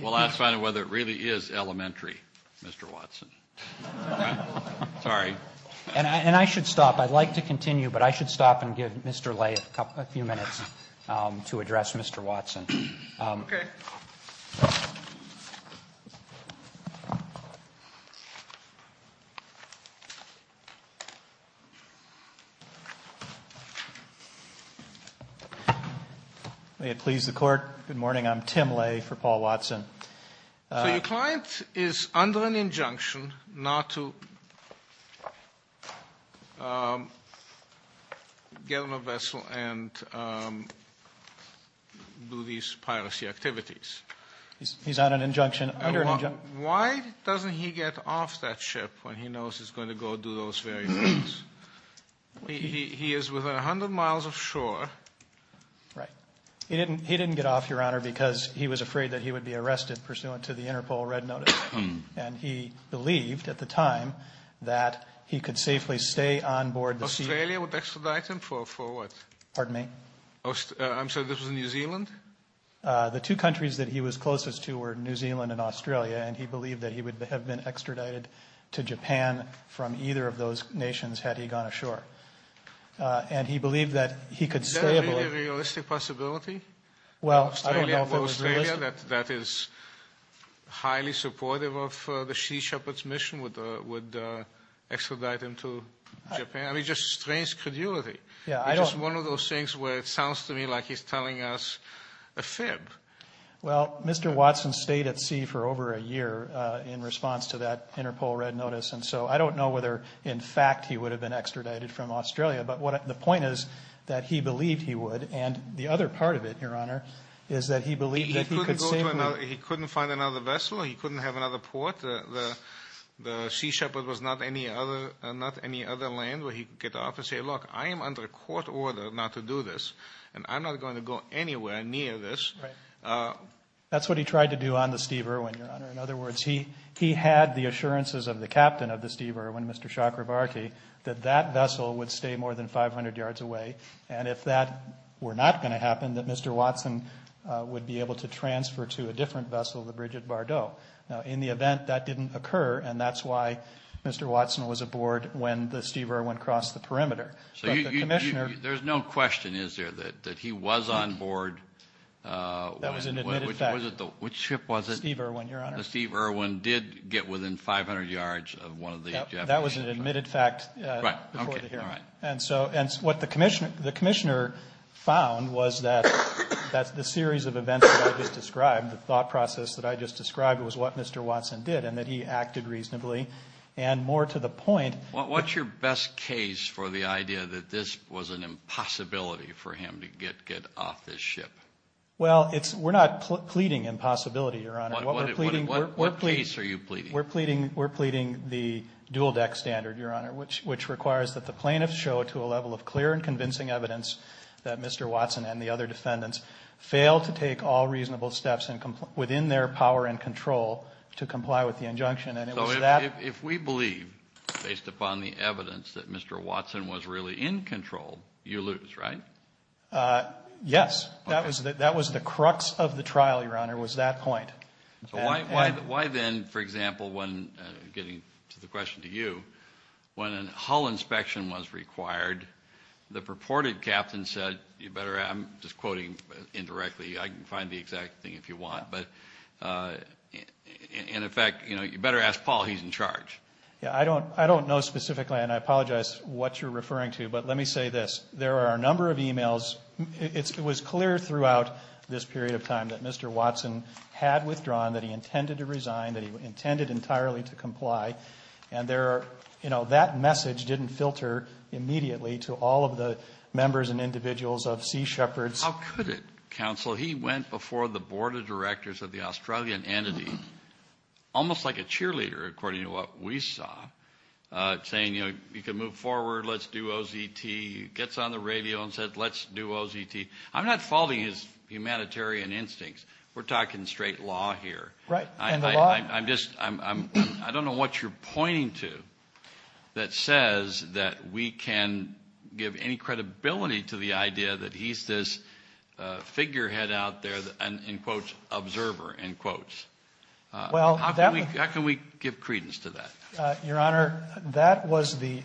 we'll have to find out whether it really is elementary, Mr. Watson. Sorry. And I should stop. I'd like to continue, but I should stop and give Mr. Lay a few minutes to address Mr. Watson. Okay. May it please the Court. Good morning. I'm Tim Lay for Paul Watson. So your client is under an injunction not to get on a vessel and do these piracy activities. He's on an injunction, under an injunction. Why doesn't he get off that ship when he knows he's going to go do those various things? He is within 100 miles of shore. Right. He didn't get off, Your Honor, because he was afraid that he would be arrested pursuant to the Interpol red notice, and he believed at the time that he could safely stay on board the sea. Australia would extradite him for what? Pardon me? I'm sorry, this was New Zealand? The two countries that he was closest to were New Zealand and Australia, and he believed that he would have been extradited to Japan from either of those nations had he gone ashore. And he believed that he could stay aboard. Is that a realistic possibility? Well, I don't know if it was realistic. Australia, that is highly supportive of the Sea Shepherd's mission, would extradite him to Japan? I mean, just strange credulity. Yeah, I don't. It's just one of those things where it sounds to me like he's telling us a fib. Well, Mr. Watson stayed at sea for over a year in response to that Interpol red notice, and so I don't know whether, in fact, he would have been extradited from Australia, but the point is that he believed he would, and the other part of it, Your Honor, is that he believed that he could safely— He couldn't find another vessel, he couldn't have another port. The Sea Shepherd was not any other land where he could get off and say, That's what he tried to do on the Steve Irwin, Your Honor. In other words, he had the assurances of the captain of the Steve Irwin, Mr. Chakrabarty, that that vessel would stay more than 500 yards away, and if that were not going to happen, that Mr. Watson would be able to transfer to a different vessel, the bridge at Bardot. Now, in the event, that didn't occur, and that's why Mr. Watson was aboard when the Steve Irwin crossed the perimeter. There's no question, is there, that he was on board? That was an admitted fact. Which ship was it? The Steve Irwin, Your Honor. The Steve Irwin did get within 500 yards of one of the— That was an admitted fact before the hearing. And so what the commissioner found was that the series of events that I just described, the thought process that I just described, was what Mr. Watson did, and that he acted reasonably, and more to the point— What's your best case for the idea that this was an impossibility for him to get off this ship? Well, we're not pleading impossibility, Your Honor. What case are you pleading? We're pleading the dual deck standard, Your Honor, which requires that the plaintiffs show to a level of clear and convincing evidence that Mr. Watson and the other defendants failed to take all reasonable steps within their power and control to comply with the injunction. So if we believe, based upon the evidence, that Mr. Watson was really in control, you lose, right? Yes. That was the crux of the trial, Your Honor, was that point. So why then, for example, when—getting to the question to you—when a hull inspection was required, the purported captain said—I'm just quoting indirectly. I can find the exact thing if you want. But, in effect, you better ask Paul. He's in charge. I don't know specifically, and I apologize what you're referring to, but let me say this. There are a number of emails. It was clear throughout this period of time that Mr. Watson had withdrawn, that he intended to resign, that he intended entirely to comply. And that message didn't filter immediately to all of the members and individuals of Sea Shepherds. How could it, counsel? He went before the board of directors of the Australian entity, almost like a cheerleader, according to what we saw, saying, you know, you can move forward, let's do OZT. He gets on the radio and said, let's do OZT. I'm not faulting his humanitarian instincts. We're talking straight law here. Right. And the law— I'm just—I don't know what you're pointing to that says that we can give any credibility to the idea that he's this figurehead out there, in quotes, observer, in quotes. How can we give credence to that? Your Honor, that was the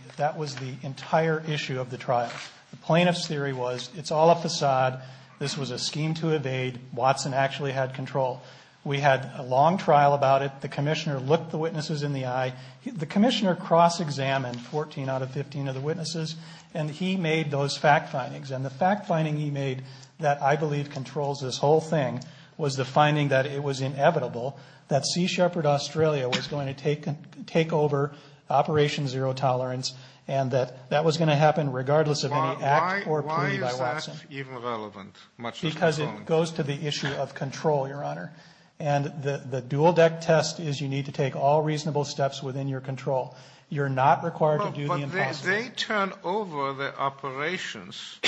entire issue of the trial. The plaintiff's theory was it's all a facade. This was a scheme to evade. Watson actually had control. We had a long trial about it. The commissioner looked the witnesses in the eye. The commissioner cross-examined 14 out of 15 of the witnesses, and he made those fact findings. And the fact finding he made that I believe controls this whole thing was the finding that it was inevitable that Sea Shepherd Australia was going to take over Operation Zero Tolerance and that that was going to happen regardless of any act or plea by Watson. Why is that even relevant? Because it goes to the issue of control, Your Honor. And the dual-deck test is you need to take all reasonable steps within your control. You're not required to do the impossible. They turn over the operations.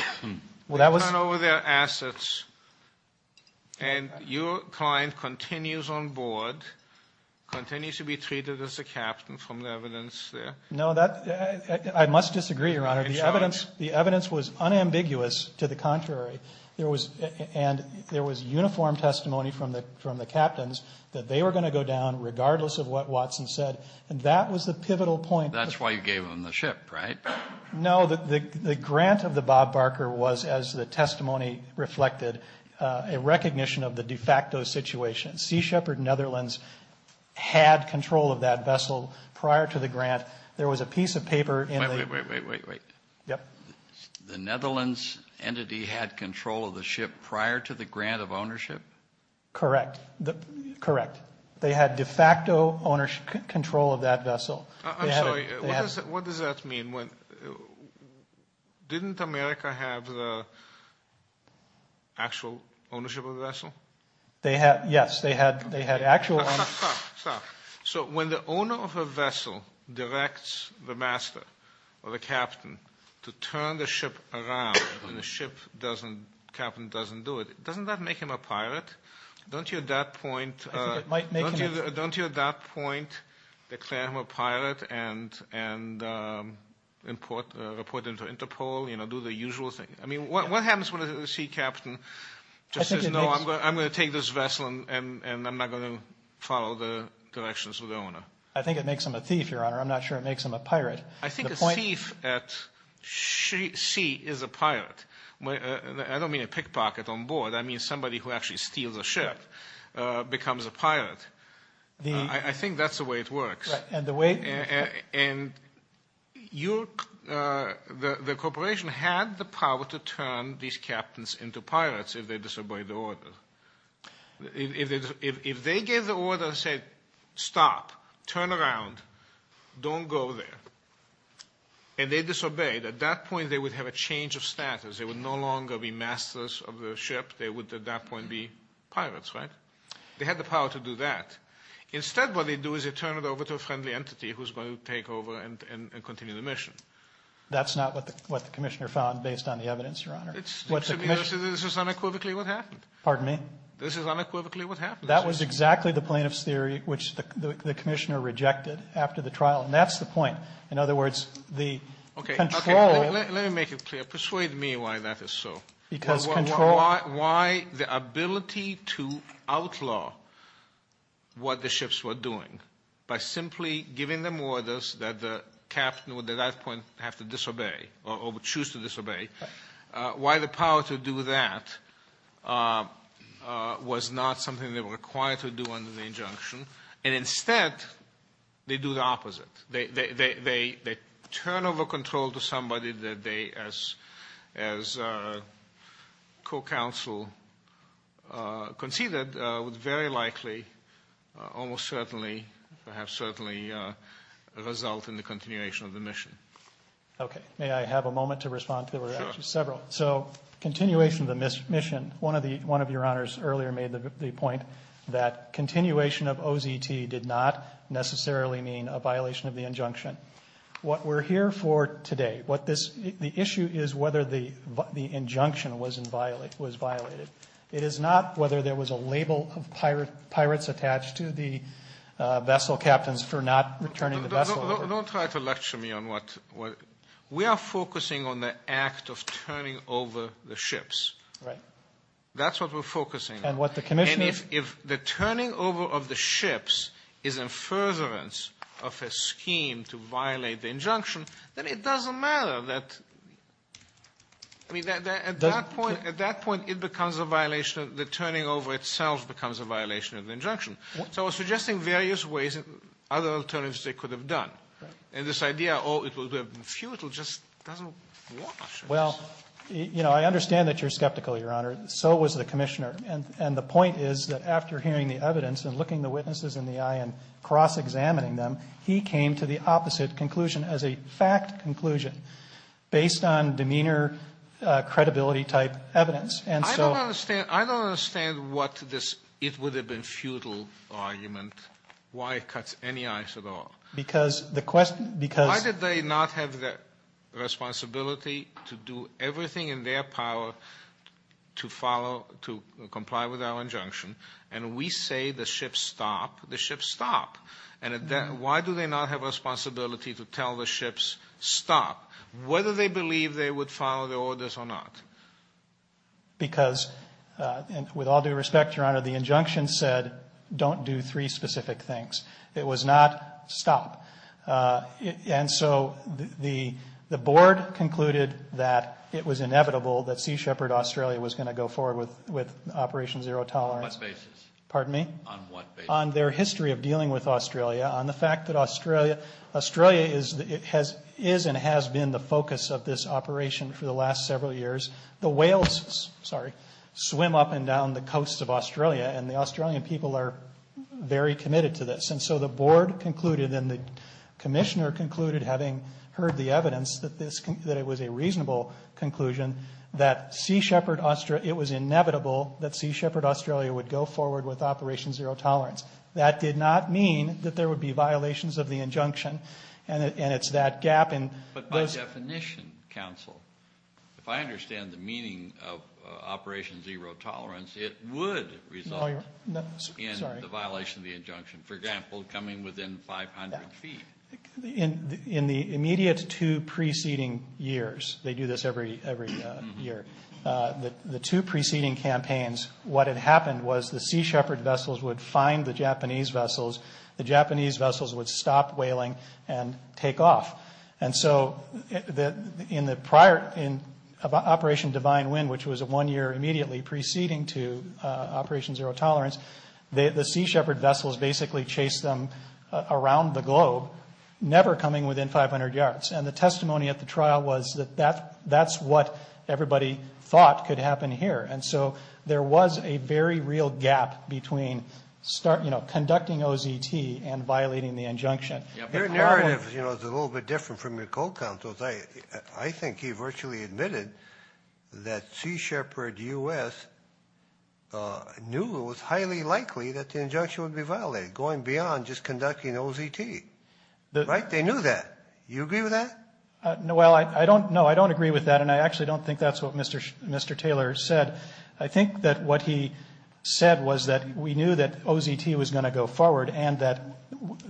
They turn over their assets, and your client continues on board, continues to be treated as a captain from the evidence there. No, I must disagree, Your Honor. The evidence was unambiguous. To the contrary, there was uniform testimony from the captains that they were going to go down regardless of what Watson said, and that was the pivotal point. That's why you gave them the ship, right? No. The grant of the Bob Barker was, as the testimony reflected, a recognition of the de facto situation. Sea Shepherd Netherlands had control of that vessel prior to the grant. There was a piece of paper in the- Wait, wait, wait, wait, wait. Yep. The Netherlands entity had control of the ship prior to the grant of ownership? Correct. Correct. They had de facto ownership control of that vessel. I'm sorry. What does that mean? Didn't America have the actual ownership of the vessel? Yes, they had actual ownership. Stop, stop, stop. So when the owner of a vessel directs the master or the captain to turn the ship around and the captain doesn't do it, doesn't that make him a pirate? Don't you at that point- I think it might make him a- and report him to Interpol, do the usual thing. I mean, what happens when the sea captain just says, no, I'm going to take this vessel and I'm not going to follow the directions of the owner? I think it makes him a thief, Your Honor. I'm not sure it makes him a pirate. I think a thief at sea is a pirate. I don't mean a pickpocket on board. I mean somebody who actually steals a ship becomes a pirate. I think that's the way it works. And the way- And the corporation had the power to turn these captains into pirates if they disobeyed the order. If they gave the order and said, stop, turn around, don't go there, and they disobeyed, at that point they would have a change of status. They would no longer be masters of the ship. They would at that point be pirates, right? They had the power to do that. Instead what they do is they turn it over to a friendly entity who's going to take over and continue the mission. That's not what the commissioner found based on the evidence, Your Honor. To be honest, this is unequivocally what happened. Pardon me? This is unequivocally what happened. That was exactly the plaintiff's theory, which the commissioner rejected after the trial. And that's the point. In other words, the control- Okay, let me make it clear. Persuade me why that is so. Because control- Why the ability to outlaw what the ships were doing by simply giving them orders that the captain would at that point have to disobey or would choose to disobey, why the power to do that was not something they were required to do under the injunction, and instead they do the opposite. They turn over control to somebody that they, as co-counsel conceded, would very likely almost certainly, perhaps certainly, result in the continuation of the mission. Okay. May I have a moment to respond? There were actually several. Sure. So continuation of the mission. One of your honors earlier made the point that continuation of OZT did not necessarily mean a violation of the injunction. What we're here for today, the issue is whether the injunction was violated. It is not whether there was a label of pirates attached to the vessel captains for not returning the vessel- Don't try to lecture me on what- We are focusing on the act of turning over the ships. Right. That's what we're focusing on. And what the commission- And if the turning over of the ships is a furtherance of a scheme to violate the injunction, then it doesn't matter that, I mean, at that point it becomes a violation, the turning over itself becomes a violation of the injunction. So we're suggesting various ways and other alternatives they could have done. Right. And this idea, oh, it would have been futile, just doesn't work. Well, you know, I understand that you're skeptical, Your Honor. So was the commissioner. And the point is that after hearing the evidence and looking the witnesses in the eye and cross-examining them, he came to the opposite conclusion as a fact conclusion based on demeanor, credibility-type evidence. And so- I don't understand what this it would have been futile argument, why it cuts any eyes at all. Because the question- Why did they not have the responsibility to do everything in their power to follow, to comply with our injunction? And we say the ships stop. The ships stop. And why do they not have responsibility to tell the ships stop, whether they believe they would follow the orders or not? Because, with all due respect, Your Honor, the injunction said don't do three specific things. It was not stop. And so the board concluded that it was inevitable that Sea Shepherd Australia was going to go forward with Operation Zero Tolerance. On what basis? Pardon me? On what basis? On their history of dealing with Australia, on the fact that Australia is and has been the focus of this operation for the last several years. The whales, sorry, swim up and down the coast of Australia, and the Australian people are very committed to this. And so the board concluded and the commissioner concluded, having heard the evidence that it was a reasonable conclusion, that it was inevitable that Sea Shepherd Australia would go forward with Operation Zero Tolerance. That did not mean that there would be violations of the injunction, and it's that gap in- But by definition, counsel, if I understand the meaning of Operation Zero Tolerance, it would result in the violation of the injunction. For example, coming within 500 feet. In the immediate two preceding years, they do this every year, the two preceding campaigns, what had happened was the Sea Shepherd vessels would find the Japanese vessels, the Japanese vessels would stop whaling and take off. And so in the prior, in Operation Divine Wind, which was one year immediately preceding to Operation Zero Tolerance, the Sea Shepherd vessels basically chased them around the globe, never coming within 500 yards. And the testimony at the trial was that that's what everybody thought could happen here. And so there was a very real gap between conducting OZT and violating the injunction. Your narrative is a little bit different from your co-counsel's. I think he virtually admitted that Sea Shepherd U.S. knew it was highly likely that the injunction would be violated, going beyond just conducting OZT. Right? They knew that. Do you agree with that? Well, no, I don't agree with that, and I actually don't think that's what Mr. Taylor said. I think that what he said was that we knew that OZT was going to go forward and that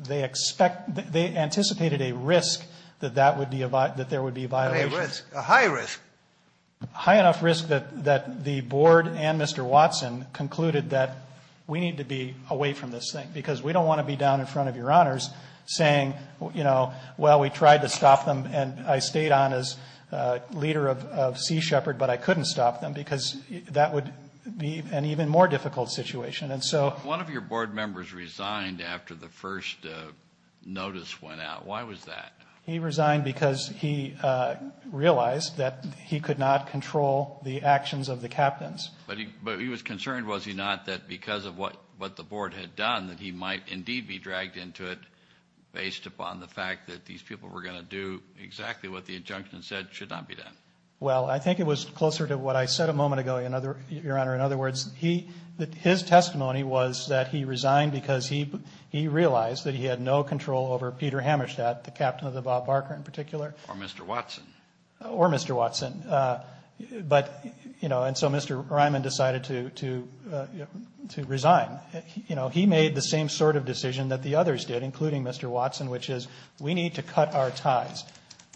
they expect, they anticipated a risk that that would be, that there would be a violation. A risk, a high risk. A high enough risk that the board and Mr. Watson concluded that we need to be away from this thing, because we don't want to be down in front of your honors saying, you know, well, we tried to stop them, and I stayed on as leader of Sea Shepherd, but I couldn't stop them because that would be an even more difficult situation. And so one of your board members resigned after the first notice went out. Why was that? He resigned because he realized that he could not control the actions of the captains. But he was concerned, was he not, that because of what the board had done, that he might indeed be dragged into it based upon the fact that these people were going to do exactly what the injunction said should not be done. Well, I think it was closer to what I said a moment ago, your honor. In other words, his testimony was that he resigned because he realized that he had no control over Peter Hammerstadt, the captain of the Bob Barker in particular. Or Mr. Watson. Or Mr. Watson. But, you know, and so Mr. Ryman decided to resign. You know, he made the same sort of decision that the others did, including Mr. Watson, which is we need to cut our ties.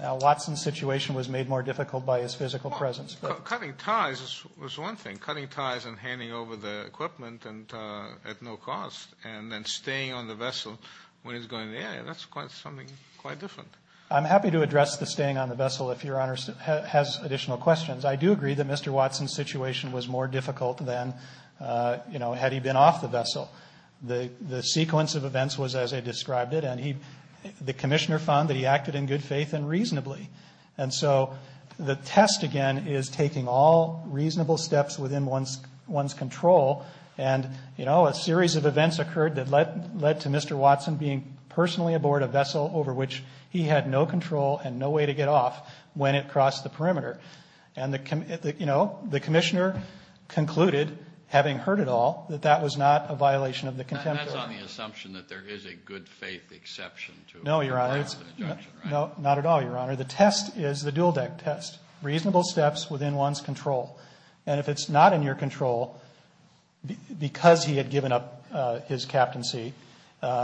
Now, Watson's situation was made more difficult by his physical presence. Cutting ties was one thing. Cutting ties and handing over the equipment at no cost and then staying on the vessel when he's going to the area, that's something quite different. I'm happy to address the staying on the vessel if your honor has additional questions. I do agree that Mr. Watson's situation was more difficult than, you know, had he been off the vessel. The sequence of events was as I described it, and the commissioner found that he acted in good faith and reasonably. And so the test, again, is taking all reasonable steps within one's control. And, you know, a series of events occurred that led to Mr. Watson being personally aboard a vessel over which he had no control and no way to get off when it crossed the perimeter. And, you know, the commissioner concluded, having heard it all, that that was not a violation of the contempt of the law. That's on the assumption that there is a good faith exception to it. No, your honor. No, not at all, your honor. The test is the dual deck test, reasonable steps within one's control. And if it's not in your control because he had given up his captaincy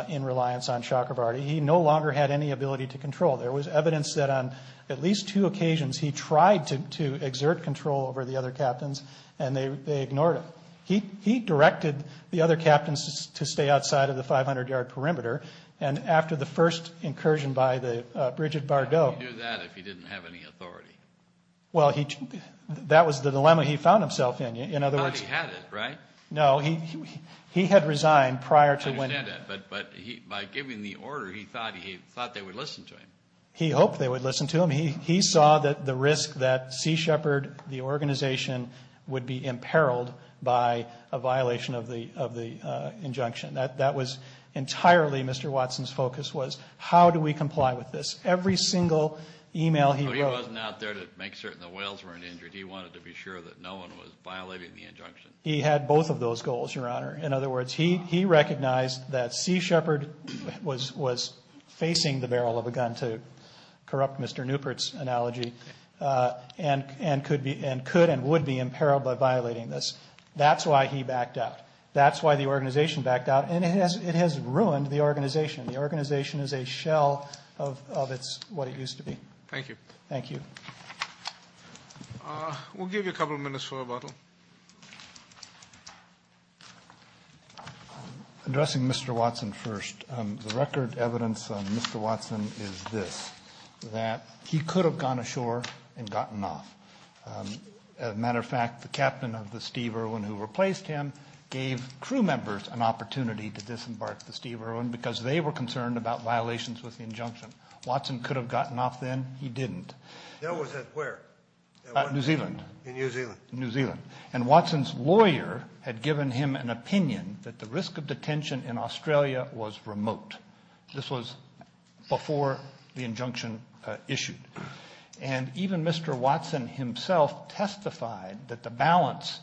in reliance on Chakravarty, he no longer had any ability to control. There was evidence that on at least two occasions he tried to exert control over the other captains and they ignored him. He directed the other captains to stay outside of the 500-yard perimeter. And after the first incursion by the Bridget Bardot. How could he do that if he didn't have any authority? Well, that was the dilemma he found himself in. In other words. He thought he had it, right? No, he had resigned prior to winning. I understand that. But by giving the order, he thought they would listen to him. He hoped they would listen to him. He saw the risk that Sea Shepherd, the organization, would be imperiled by a violation of the injunction. That was entirely Mr. Watson's focus was how do we comply with this? Every single email he wrote. He wasn't out there to make certain the whales weren't injured. He wanted to be sure that no one was violating the injunction. He had both of those goals, your honor. In other words, he recognized that Sea Shepherd was facing the barrel of a gun to corrupt Mr. Newport's analogy. And could and would be imperiled by violating this. That's why he backed out. That's why the organization backed out. And it has ruined the organization. The organization is a shell of what it used to be. Thank you. Thank you. We'll give you a couple minutes for rebuttal. Addressing Mr. Watson first. The record evidence on Mr. Watson is this, that he could have gone ashore and gotten off. As a matter of fact, the captain of the Steve Irwin who replaced him gave crew members an opportunity to disembark the Steve Irwin because they were concerned about violations with the injunction. Watson could have gotten off then. He didn't. Where? New Zealand. In New Zealand. In New Zealand. And Watson's lawyer had given him an opinion that the risk of detention in Australia was remote. This was before the injunction issued. And even Mr. Watson himself testified that the balance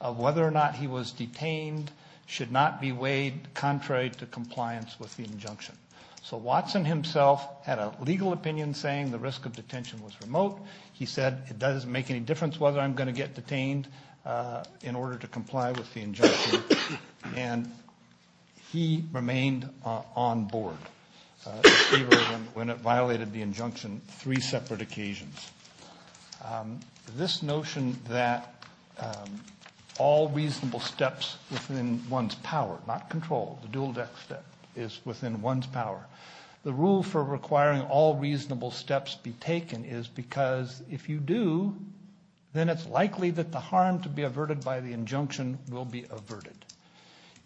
of whether or not he was detained should not be weighed contrary to compliance with the injunction. So Watson himself had a legal opinion saying the risk of detention was remote. He said it doesn't make any difference whether I'm going to get detained in order to comply with the injunction. And he remained on board with Steve Irwin when it violated the injunction three separate occasions. This notion that all reasonable steps within one's power, not control, the dual deck step is within one's power. The rule for requiring all reasonable steps be taken is because if you do, then it's likely that the harm to be averted by the injunction will be averted.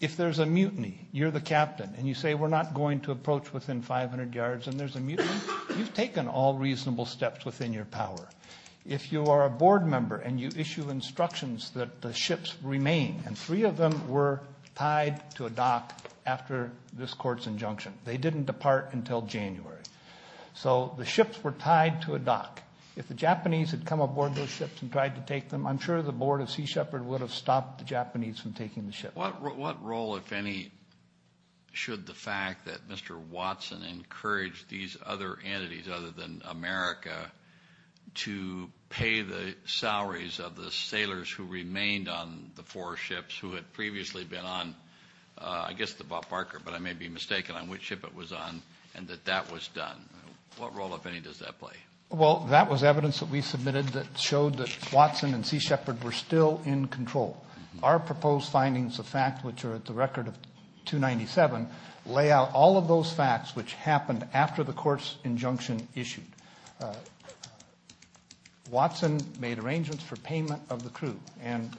If there's a mutiny, you're the captain, and you say we're not going to approach within 500 yards and there's a mutiny, you've taken all reasonable steps within your power. If you are a board member and you issue instructions that the ships remain, and three of them were tied to a dock after this court's injunction. They didn't depart until January. So the ships were tied to a dock. If the Japanese had come aboard those ships and tried to take them, I'm sure the board of Sea Shepherd would have stopped the Japanese from taking the ships. What role, if any, should the fact that Mr. Watson encouraged these other entities other than America to pay the salaries of the sailors who remained on the four ships, who had previously been on, I guess, the Bob Barker, but I may be mistaken on which ship it was on, and that that was done. What role, if any, does that play? Well, that was evidence that we submitted that showed that Watson and Sea Shepherd were still in control. Our proposed findings of fact, which are at the record of 297, lay out all of those facts which happened after the court's injunction issued. Watson made arrangements for payment of the crew, and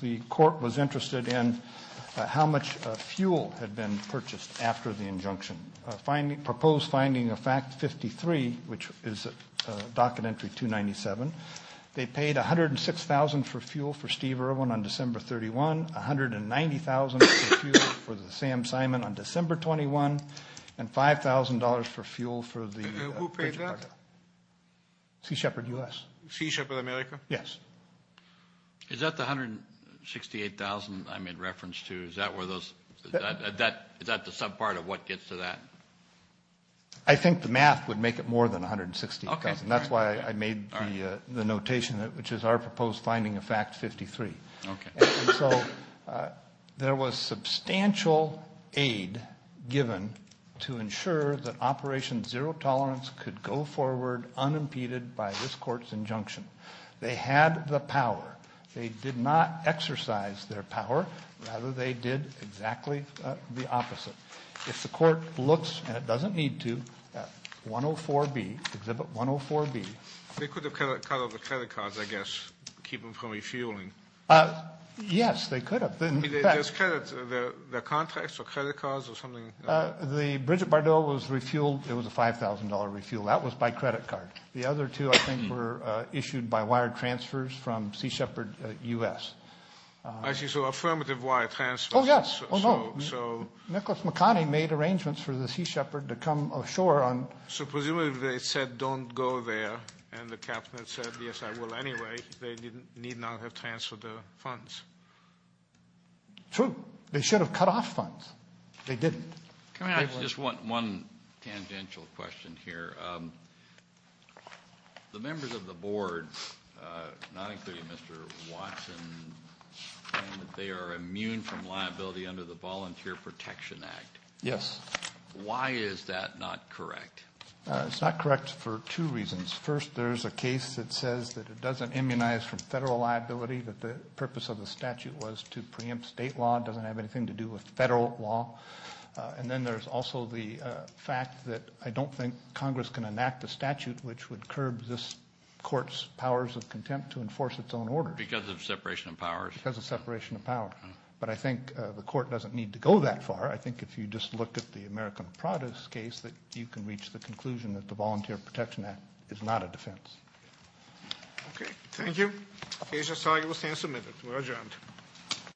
the court was interested in how much fuel had been purchased after the injunction. Proposed finding of fact 53, which is a docket entry 297, they paid $106,000 for fuel for Steve Irwin on December 31, $190,000 for the Sam Simon on December 21, and $5,000 for fuel for the Who paid that? Sea Shepherd US. Sea Shepherd America? Yes. Is that the $168,000 I made reference to? Is that the subpart of what gets to that? I think the math would make it more than $160,000. That's why I made the notation, which is our proposed finding of fact 53. So there was substantial aid given to ensure that Operation Zero Tolerance could go forward unimpeded by this court's injunction. They had the power. They did not exercise their power. Rather, they did exactly the opposite. If the court looks, and it doesn't need to, at 104B, Exhibit 104B. They could have cut out the credit cards, I guess, to keep them from refueling. Yes, they could have. I mean, there's credits. Their contracts or credit cards or something? The Bridget Bardot was refueled. It was a $5,000 refuel. That was by credit card. The other two, I think, were issued by wire transfers from Sea Shepherd U.S. I see. So affirmative wire transfers. Oh, yes. Oh, no. Nicholas McConney made arrangements for the Sea Shepherd to come ashore. So presumably they said, don't go there, and the captain said, yes, I will anyway. They need not have transferred the funds. True. They should have cut off funds. They didn't. Just one tangential question here. The members of the board, not including Mr. Watson, claim that they are immune from liability under the Volunteer Protection Act. Yes. Why is that not correct? It's not correct for two reasons. First, there's a case that says that it doesn't immunize from federal liability, that the purpose of the statute was to preempt state law. It doesn't have anything to do with federal law. And then there's also the fact that I don't think Congress can enact a statute which would curb this court's powers of contempt to enforce its own order. Because of separation of powers. Because of separation of powers. But I think the court doesn't need to go that far. I think if you just look at the American Prada's case, that you can reach the conclusion that the Volunteer Protection Act is not a defense. Okay. Thank you. The case is arguably stand submitted. We're adjourned.